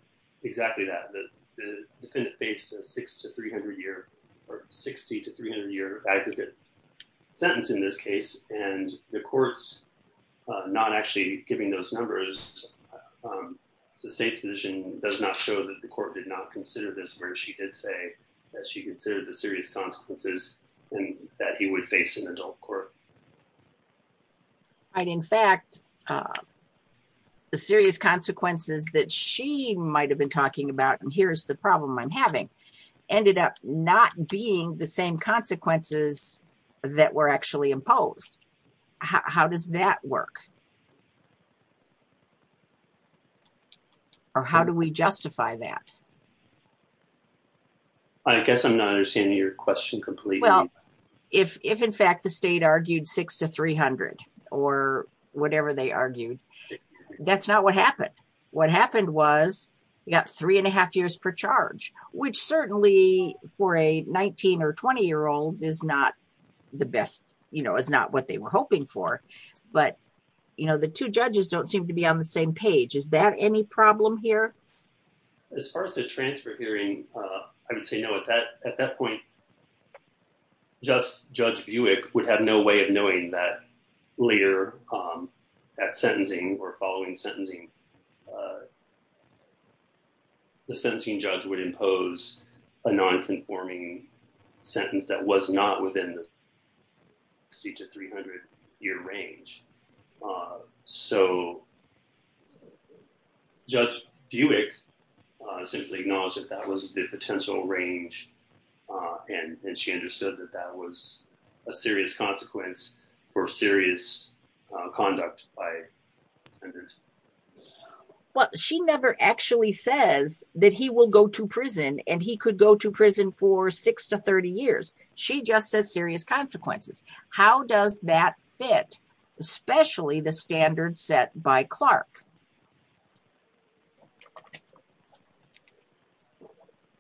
exactly that, that the defendant faced a 6 to 300-year or 60 to 300-year aggregate sentence in this case, and the court's not actually giving those numbers. The state's position does not show that the court did not consider this, or she did say that she considered the serious consequences and that he would face an adult court. In fact, the serious consequences that she might have been talking about, and here's the problem I'm having, ended up not being the same consequences that were actually imposed. How does that work? Or how do we justify that? I guess I'm not understanding your question completely. Well, if in fact the state argued 6 to 300 or whatever they argued, that's not what happened. What happened was you got three and a half years per charge, which certainly for a 19 or 20-year-old is not the best, you know, is not what they were hoping for. But, you know, the two judges don't seem to be on the same page. Is that any problem here? As far as the transfer hearing, I would say no. At that point, Judge Buick would have no way of knowing that later at sentencing or following sentencing, the sentencing judge would impose a nonconforming sentence that was not within the 60 to 300-year range. So Judge Buick simply acknowledged that that was the potential range, and she understood that that was a serious consequence for serious conduct by offenders. Well, she never actually says that he will go to prison and he could go to prison for 6 to 30 years. She just says serious consequences. How does that fit, especially the standards set by Clark?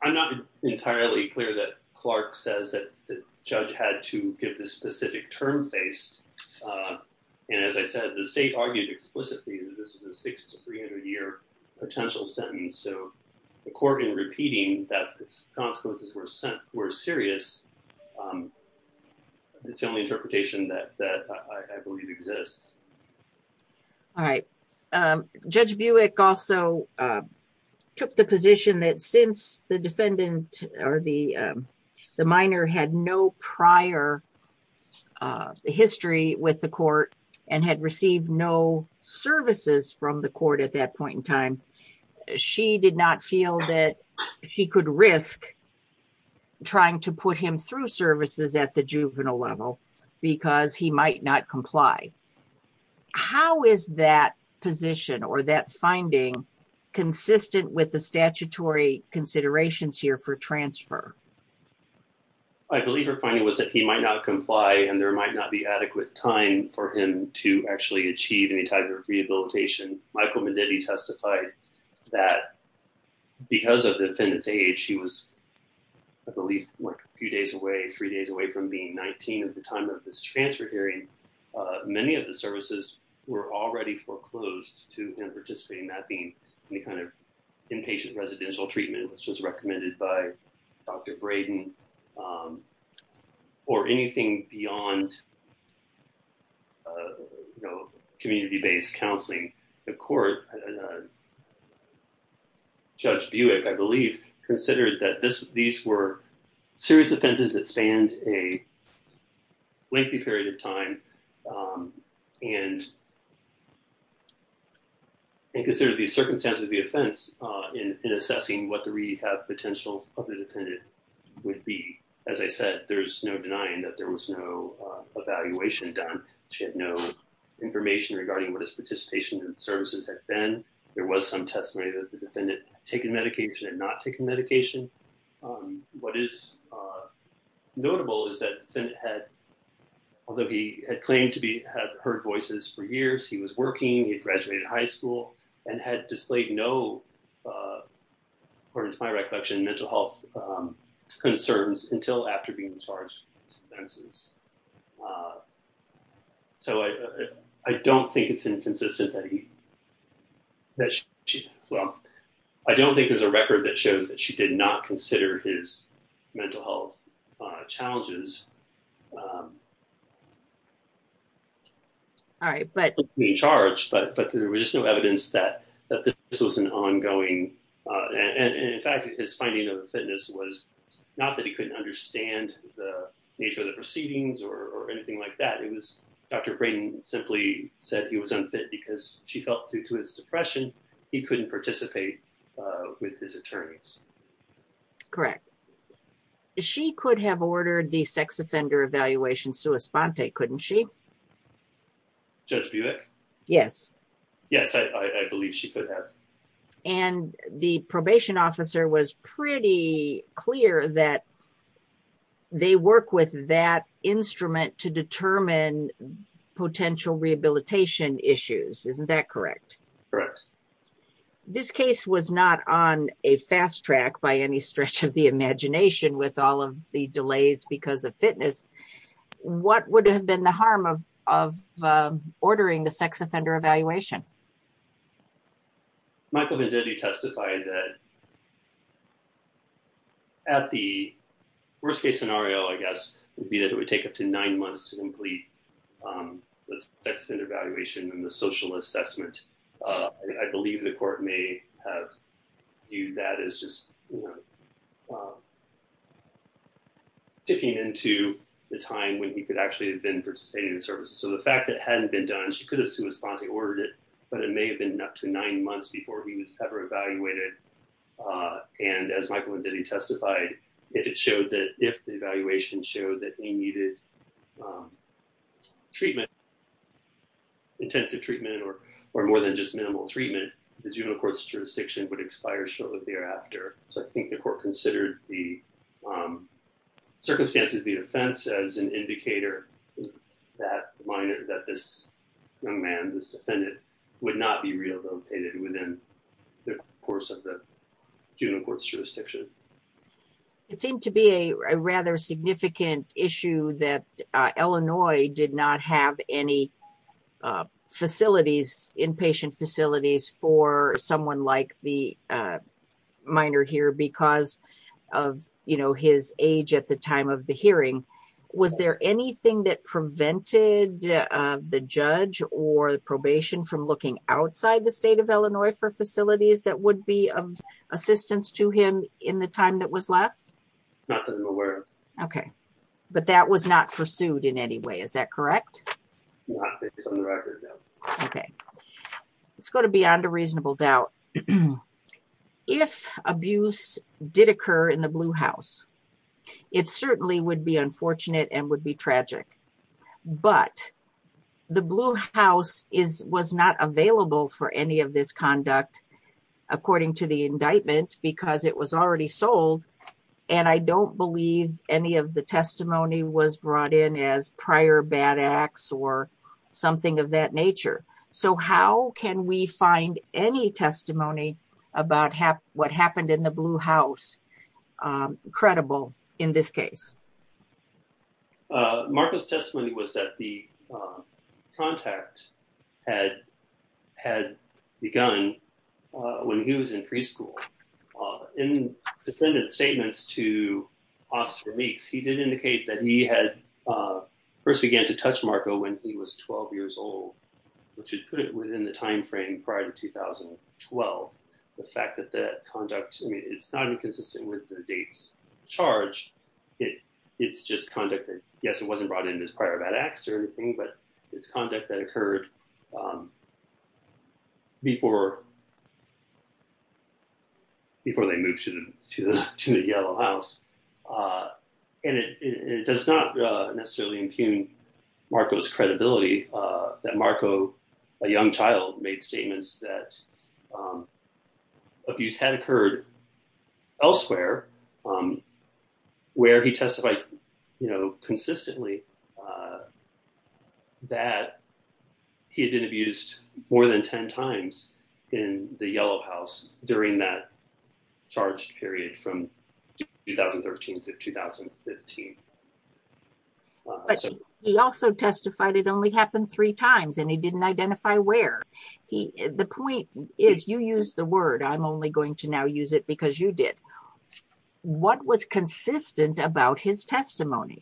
I'm not entirely clear that Clark says that the judge had to give this specific term base. And as I said, the state argued explicitly that this is a 6 to 300-year potential sentence. So according, repeating that the consequences were serious, it's the only interpretation that I believe exists. All right. Judge Buick also took the position that since the defendant or the minor had no prior history with the court and had received no services from the court at that point in time, she did not feel that she could risk trying to put him through services at the juvenile level because he might not comply. How is that position or that finding consistent with the statutory considerations here for transfer? I believe her finding was that he might not comply and there might not be adequate time for him to actually achieve any type of rehabilitation. Michael Medivy testified that because of the defendant's age, she was, I believe, a few days away, three days away from being 19 at the time of this transfer hearing, many of the services were already foreclosed to him participating. That being the kind of inpatient residential treatment that was recommended by Dr. Braden or anything beyond community-based counseling. The court, Judge Buick, I believe, considered that these were serious offenses that stand a lengthy period of time and considered the circumstances of the offense in assessing what the rehab potential of the defendant would be. As I said, there's no denying that there was no evaluation done. She had no information regarding what his participation in services had been. There was some testimony that the defendant had taken medication and not taken medication. What is notable is that the defendant had, although he had claimed to have heard voices for years, he was working, he graduated high school, and had displayed no, according to my recollection, mental health concerns until after being discharged. I don't think it's inconsistent that he, well, I don't think there's a record that shows that she did not consider his mental health challenges. But there was no evidence that this was an ongoing, and in fact, his finding of the fitness was not that he couldn't understand the nature of the proceedings or anything like that. It was Dr. Braden simply said he was unfit because she felt, due to his depression, he couldn't participate with his attorneys. Correct. She could have ordered the sex offender evaluation sua sponte, couldn't she? Judge Bewick? Yes. Yes, I believe she could have. And the probation officer was pretty clear that they work with that instrument to determine potential rehabilitation issues. Isn't that correct? Correct. This case was not on a fast track by any stretch of the imagination with all of the delays because of fitness. What would have been the harm of ordering the sex offender evaluation? Michael Venditti testified that at the worst case scenario, I guess, it would take up to nine months to complete the sex offender evaluation and the social assessment. I believe the court may have viewed that as just ticking into the time when he could actually have been participating in services. So the fact that it hadn't been done, she could have sua sponte ordered it, but it may have been up to nine months before he was ever evaluated. And as Michael Venditti testified, if the evaluation showed that he needed treatment, intensive treatment, or more than just minimal treatment, the juvenile court's jurisdiction would expire shortly thereafter. So I think the court considered the circumstances of the offense as an indicator that this young man, this defendant, would not be relocated within the course of the juvenile court's jurisdiction. It seemed to be a rather significant issue that Illinois did not have any inpatient facilities for someone like the minor here because of his age at the time of the hearing. Was there anything that prevented the judge or the probation from looking outside the state of Illinois for facilities that would be of assistance to him in the time that was left? Okay, but that was not pursued in any way. Is that correct? Okay, let's go to beyond a reasonable doubt. If abuse did occur in the Blue House, it certainly would be unfortunate and would be tragic. But the Blue House was not available for any of this conduct, according to the indictments, because it was already sold. And I don't believe any of the testimony was brought in as prior bad acts or something of that nature. So how can we find any testimony about what happened in the Blue House credible in this case? Marco's testimony was that the contact had begun when he was in preschool. In the defendant's statements to Oscar Meeks, he did indicate that he had first began to touch Marco when he was 12 years old, which would put it within the timeframe prior to 2012. The fact that that conduct, I mean, it's not inconsistent with the date's charge. It's just conduct that, yes, it wasn't brought in as prior bad acts or anything, but it's conduct that occurred before they moved to the Yellow House. And it does not necessarily impugn Marco's credibility that Marco, a young child, made statements that abuse had occurred elsewhere, where he testified, you know, consistently, that he had been abused more than 10 times in the Yellow House during that charge period from 2013 to 2015. He also testified it only happened three times, and he didn't identify where. The point is, you used the word. I'm only going to now use it because you did. What was consistent about his testimony?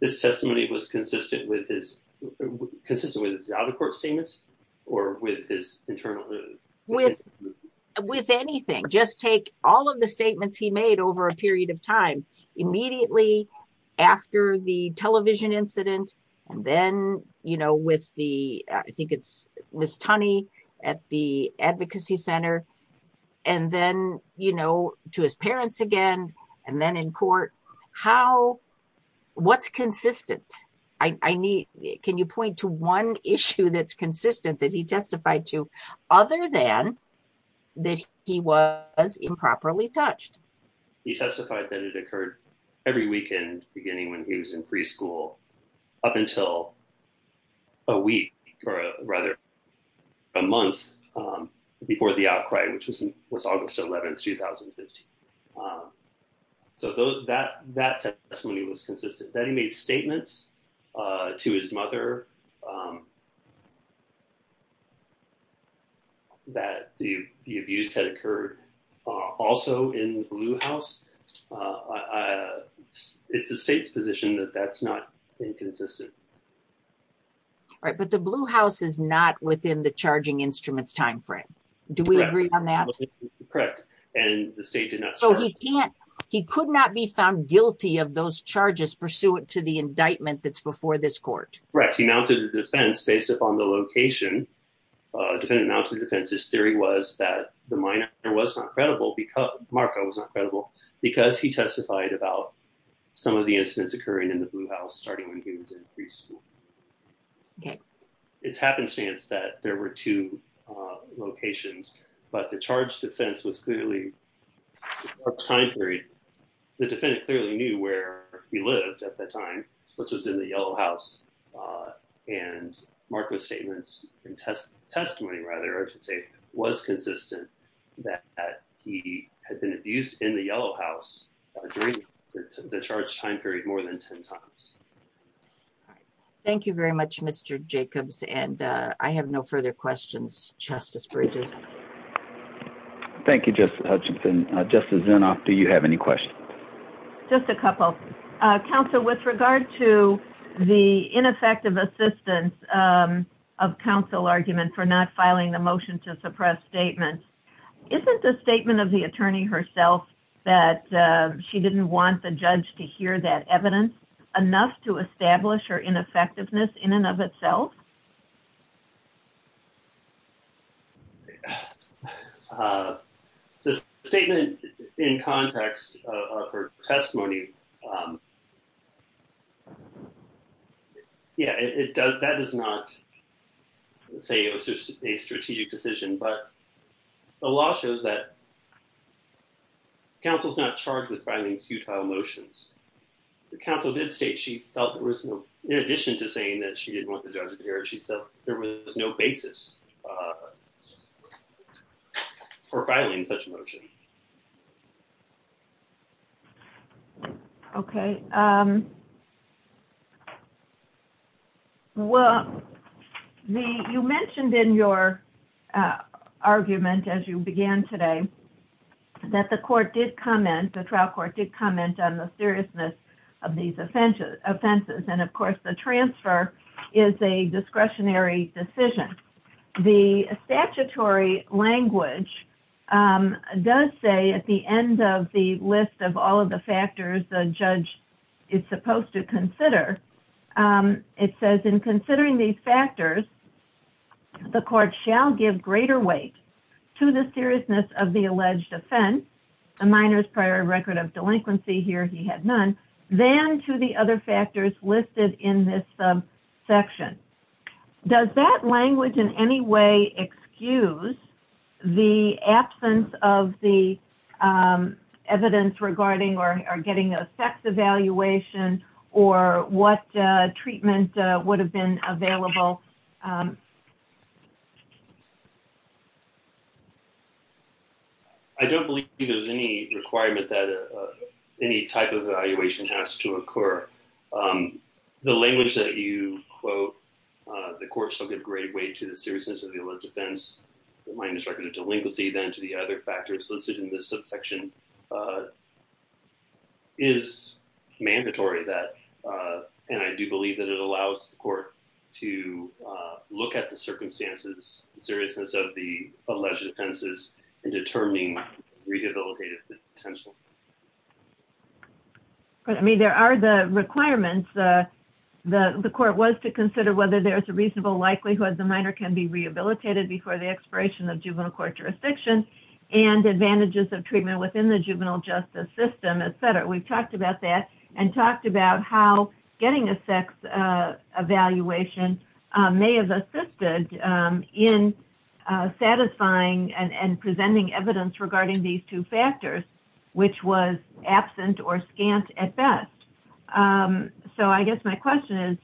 His testimony was consistent with his, consistent with the other court statements or with his internal? With anything. Just take all of the statements he made over a period of time. Immediately after the television incident, then, you know, with the, I think it's Ms. Tunney at the advocacy center, and then, you know, to his parents again, and then in court. How, what's consistent? I need, can you point to one issue that's consistent that he testified to, other than that he was improperly touched? He testified that it occurred every weekend, beginning when he was in preschool, up until a week, or rather a month before the outcry, which was August 11, 2015. So those, that testimony was consistent. Then he made statements to his mother that the abuse had occurred also in the Blue House. It's the state's position that that's not inconsistent. Right, but the Blue House is not within the charging instruments timeframe. Do we agree on that? Correct. And the state did not. So he can't, he could not be found guilty of those charges pursuant to the indictment that's before this court. Correct. He mounted a defense based upon the location. Defendant mounted a defense. His theory was that the minor was not credible because, Marco was not credible, because he testified about some of the incidents occurring in the Blue House starting when he was in preschool. It's happenstance that there were two locations, but the charge defense was clearly, the defense clearly knew where he lived at that time, which was in the Yellow House. And Marco's statements, testimony rather, I should say, was consistent that he had been abused in the Yellow House during the charge time period more than 10 times. Thank you very much, Mr. Jacobs. And I have no further questions, Justice Bridges. Thank you, Justice Hutchinson. Justice Zinoff, do you have any questions? Just a couple. Counsel, with regard to the ineffective assistance of counsel argument for not filing the motion to suppress statements, isn't the statement of the attorney herself that she didn't want the judge to hear that evidence enough? To establish her ineffectiveness in and of itself? The statement in context of her testimony, yeah, it does, that is not a strategic decision, but the law shows that counsel's not charged with filing two-file motions. Counsel did state, in addition to saying that she didn't want the judge to hear, she said there was no basis for filing such a motion. Okay. Well, you mentioned in your argument, as you began today, that the trial court did comment on the seriousness of these offenses, and of course the transfer is a discretionary decision. The statutory language does say at the end of the list of all of the factors the judge is supposed to consider, it says in considering these factors, the court shall give greater weight to the seriousness of the alleged offense, a minor's prior record of delinquency, here he had none, than to the other factors listed in this subsection. Does that language in any way excuse the absence of the evidence regarding or getting a sex evaluation, or what treatment would have been available? I don't believe there's any requirement that any type of evaluation has to occur. The language that you quote, the court shall give greater weight to the seriousness of the alleged offense, a minor's prior record of delinquency, than to the other factors listed in this subsection, is mandatory that, and I do believe that it allows the court to look at the circumstances, seriousness of the alleged offenses, and determining rehabilitative potential. There are the requirements, the court was to consider whether there's a reasonable likelihood the minor can be rehabilitated before the expiration of juvenile court jurisdiction, and advantages of treatment within the juvenile justice system, etc. We've talked about that, and talked about how getting a sex evaluation may have assisted in satisfying and presenting evidence regarding these two factors, which was absent or scant at best. So I guess my question is,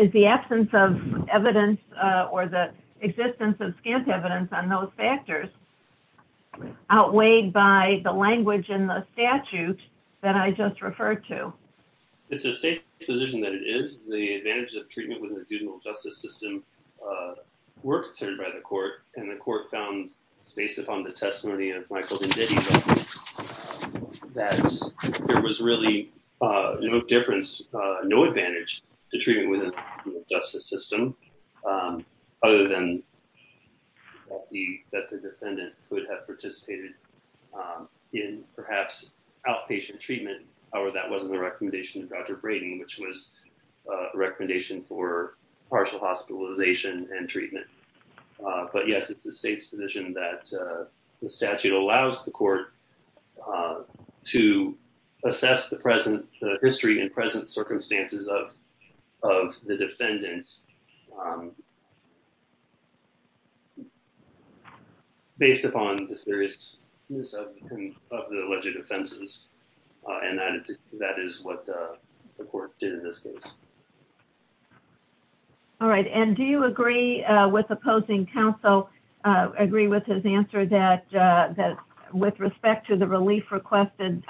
is the absence of evidence, or the existence of scant evidence on those factors, outweighed by the language in the statute that I just referred to? It's a safe position that it is. The advantages of treatment within the juvenile justice system were determined by the court, and the court found, based upon the testimony of Michael Venditti, that there was really no difference, no advantage to treatment within the juvenile justice system, other than that the defendant would have participated in, perhaps, outpatient treatment. However, that wasn't the recommendation of Dr. Brady, which was a recommendation for partial hospitalization and treatment. But yes, it's a safe position that the statute allows the court to assess the history and present circumstances of the defendants, based upon the seriousness of the alleged offenses, and that is what the court did in this case. All right, and do you agree with opposing counsel, agree with his answer that, with respect to the relief requested,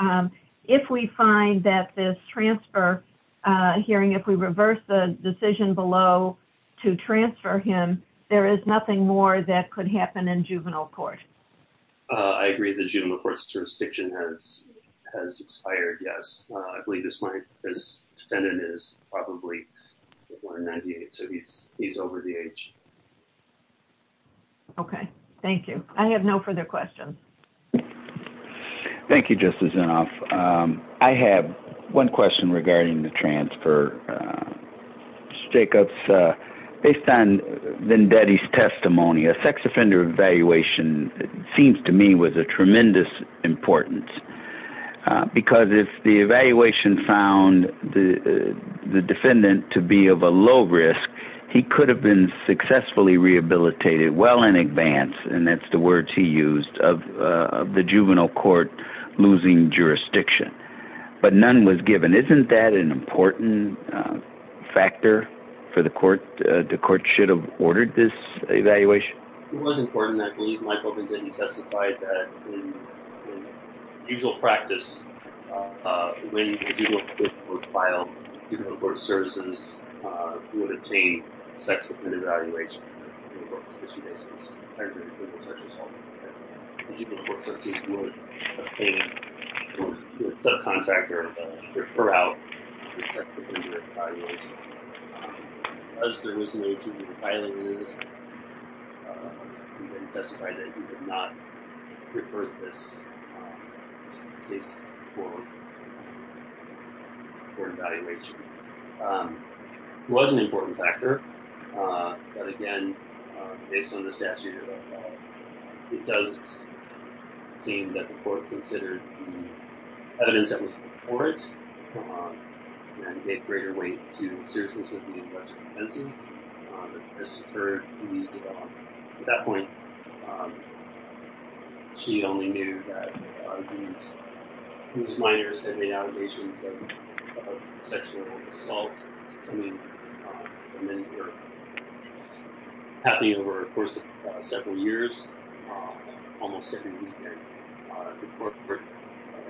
if we find that this transfer hearing, if we reverse the decision below to transfer him, there is nothing more that could happen in juvenile court? I agree that juvenile court's jurisdiction has expired, yes. I believe his defendant is probably over 98, so he's over the age. Okay, thank you. I have no further questions. Thank you, Justice Zinoff. I have one question regarding the transfer. Based on Vendetti's testimony, a sex offender evaluation, it seems to me, was of tremendous importance, because if the evaluation found the defendant to be of a low risk, he could have been successfully rehabilitated well in advance, and that's the words he used, of the juvenile court losing jurisdiction. But none was given. Isn't that an important factor for the court? The court should have ordered this evaluation. It was important. I believe Michael Vendetti testified that, in usual practice, when the juvenile court filed juvenile court services, we would obtain sex-dependent evaluations. We would obtain a subcontractor to refer out the sex-dependent evaluations. As to the reason that he was filing this, he testified that he did not refer this case to the court for an evaluation. It was an important factor, but again, based on the statute, it does seem that the court considered the evidence that was before it, and gave greater weight to the seriousness of being much more offensive. At that point, he only knew that his minors had been allegations of sexual assault.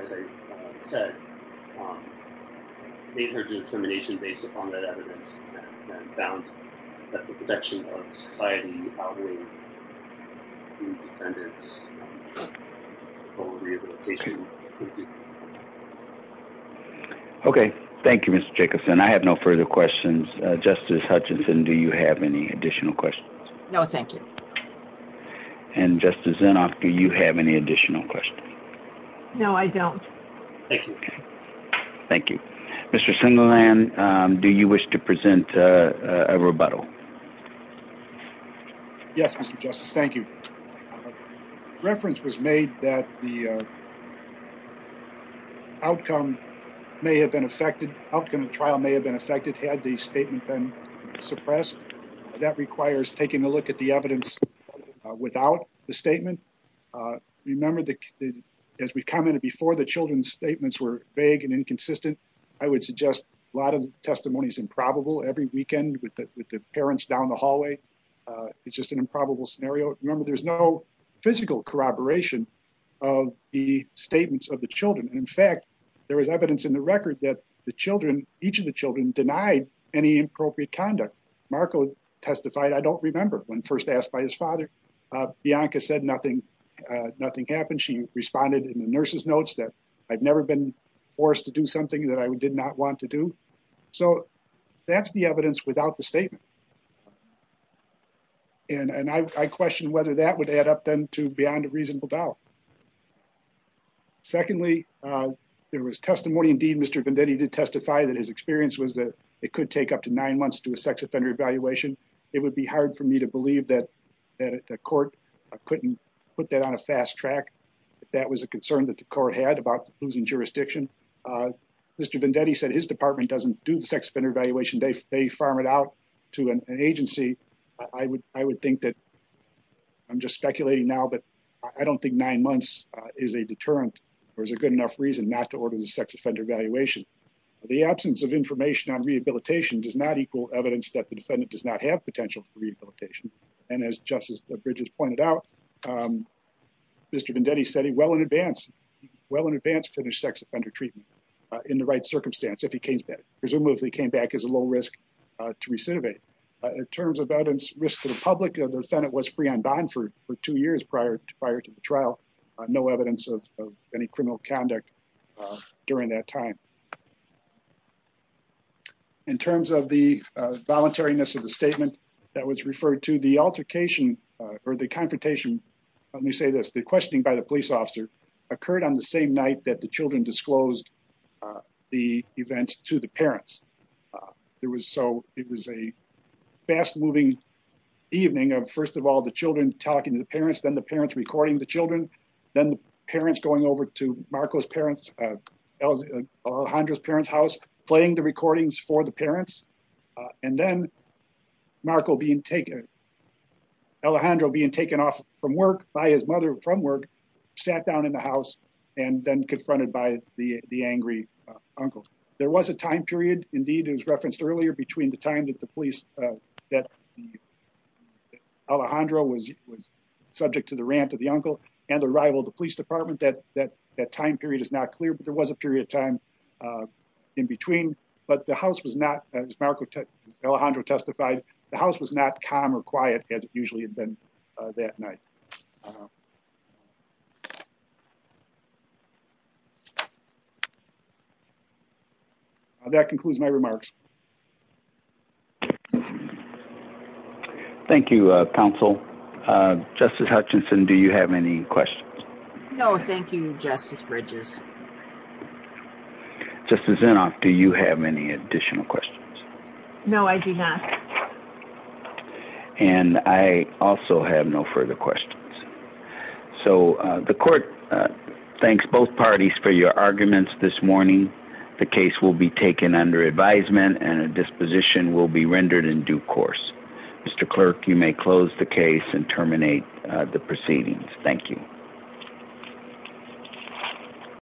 As I said, they heard the determination based upon that evidence, and found that the protection of society outweighed the defendant's rehabilitation. Thank you. Okay. Thank you, Mr. Jacobson. I have no further questions. Justice Hutchinson, do you have any additional questions? No, thank you. And Justice Zinoff, do you have any additional questions? No, I don't. Thank you. Thank you. Mr. Singeland, do you wish to present a rebuttal? Yes, Mr. Justice. Thank you. Reference was made that the outcome of the trial may have been affected had the statement been suppressed. That requires taking a look at the evidence without the statement. Remember, as we commented before, the children's statements were vague and inconsistent. I would suggest a lot of testimony is improbable. Every weekend with the parents down the hallway, it's just an improbable scenario. Remember, there's no physical corroboration of the statements of the children. In fact, there is evidence in the record that the children, each of the children, denied any appropriate conduct. Marco testified, I don't remember, when first asked by his father. Bianca said nothing happened. She responded in the nurse's notes that I'd never been forced to do something that I did not want to do. So that's the evidence without the statement. And I question whether that would add up then to beyond a reasonable doubt. Secondly, there was testimony. Indeed, Mr. Venditti did testify that his experience was that it could take up to nine months to do a sex offender evaluation. It would be hard for me to believe that the court couldn't put that on a fast track. That was a concern that the court had about losing jurisdiction. Mr. Venditti said his department doesn't do sex offender evaluation. They farm it out to an agency. I would think that, I'm just speculating now, but I don't think nine months is a deterrent or is a good enough reason not to order the sex offender evaluation. The absence of information on rehabilitation does not equal evidence that the defendant does not have potential for rehabilitation. And as Justice Bridges pointed out, Mr. Venditti said he well in advance, well in advance, finished sex offender treatment in the right circumstance if he came back. Presumably if he came back as a low risk to recidivate. In terms of evidence, risk to the public, the defendant was free on bond for two years prior to the trial. No evidence of any criminal conduct during that time. In terms of the voluntariness of the statement that was referred to, the altercation or the confrontation, let me say this, the questioning by the police officer occurred on the same night that the children disclosed the event to the parents. It was a fast moving evening of, first of all, the children talking to the parents, then the parents recording the children, then the parents going over to Marco's parents, Alejandro's parents' house, playing the recordings for the parents. And then Marco being taken, Alejandro being taken off from work by his mother from work, sat down in the house and then confronted by the angry uncle. There was a time period, indeed, as referenced earlier, between the time that the police, that Alejandro was subject to the rant of the uncle and the arrival of the police department, that time period is not clear, but there was a period of time in between. But the house was not, as Alejandro testified, the house was not calm or quiet as it usually had been that night. That concludes my remarks. Thank you, counsel. Justice Hutchinson, do you have any questions? No, thank you, Justice Bridges. Justice Zinoff, do you have any additional questions? No, I do not. And I also have no further questions. So the court thanks both parties for your arguments this morning. The case will be taken under advisement and a disposition will be rendered in due course. Mr. Clerk, you may close the case and terminate the proceedings. Thank you. Thank you.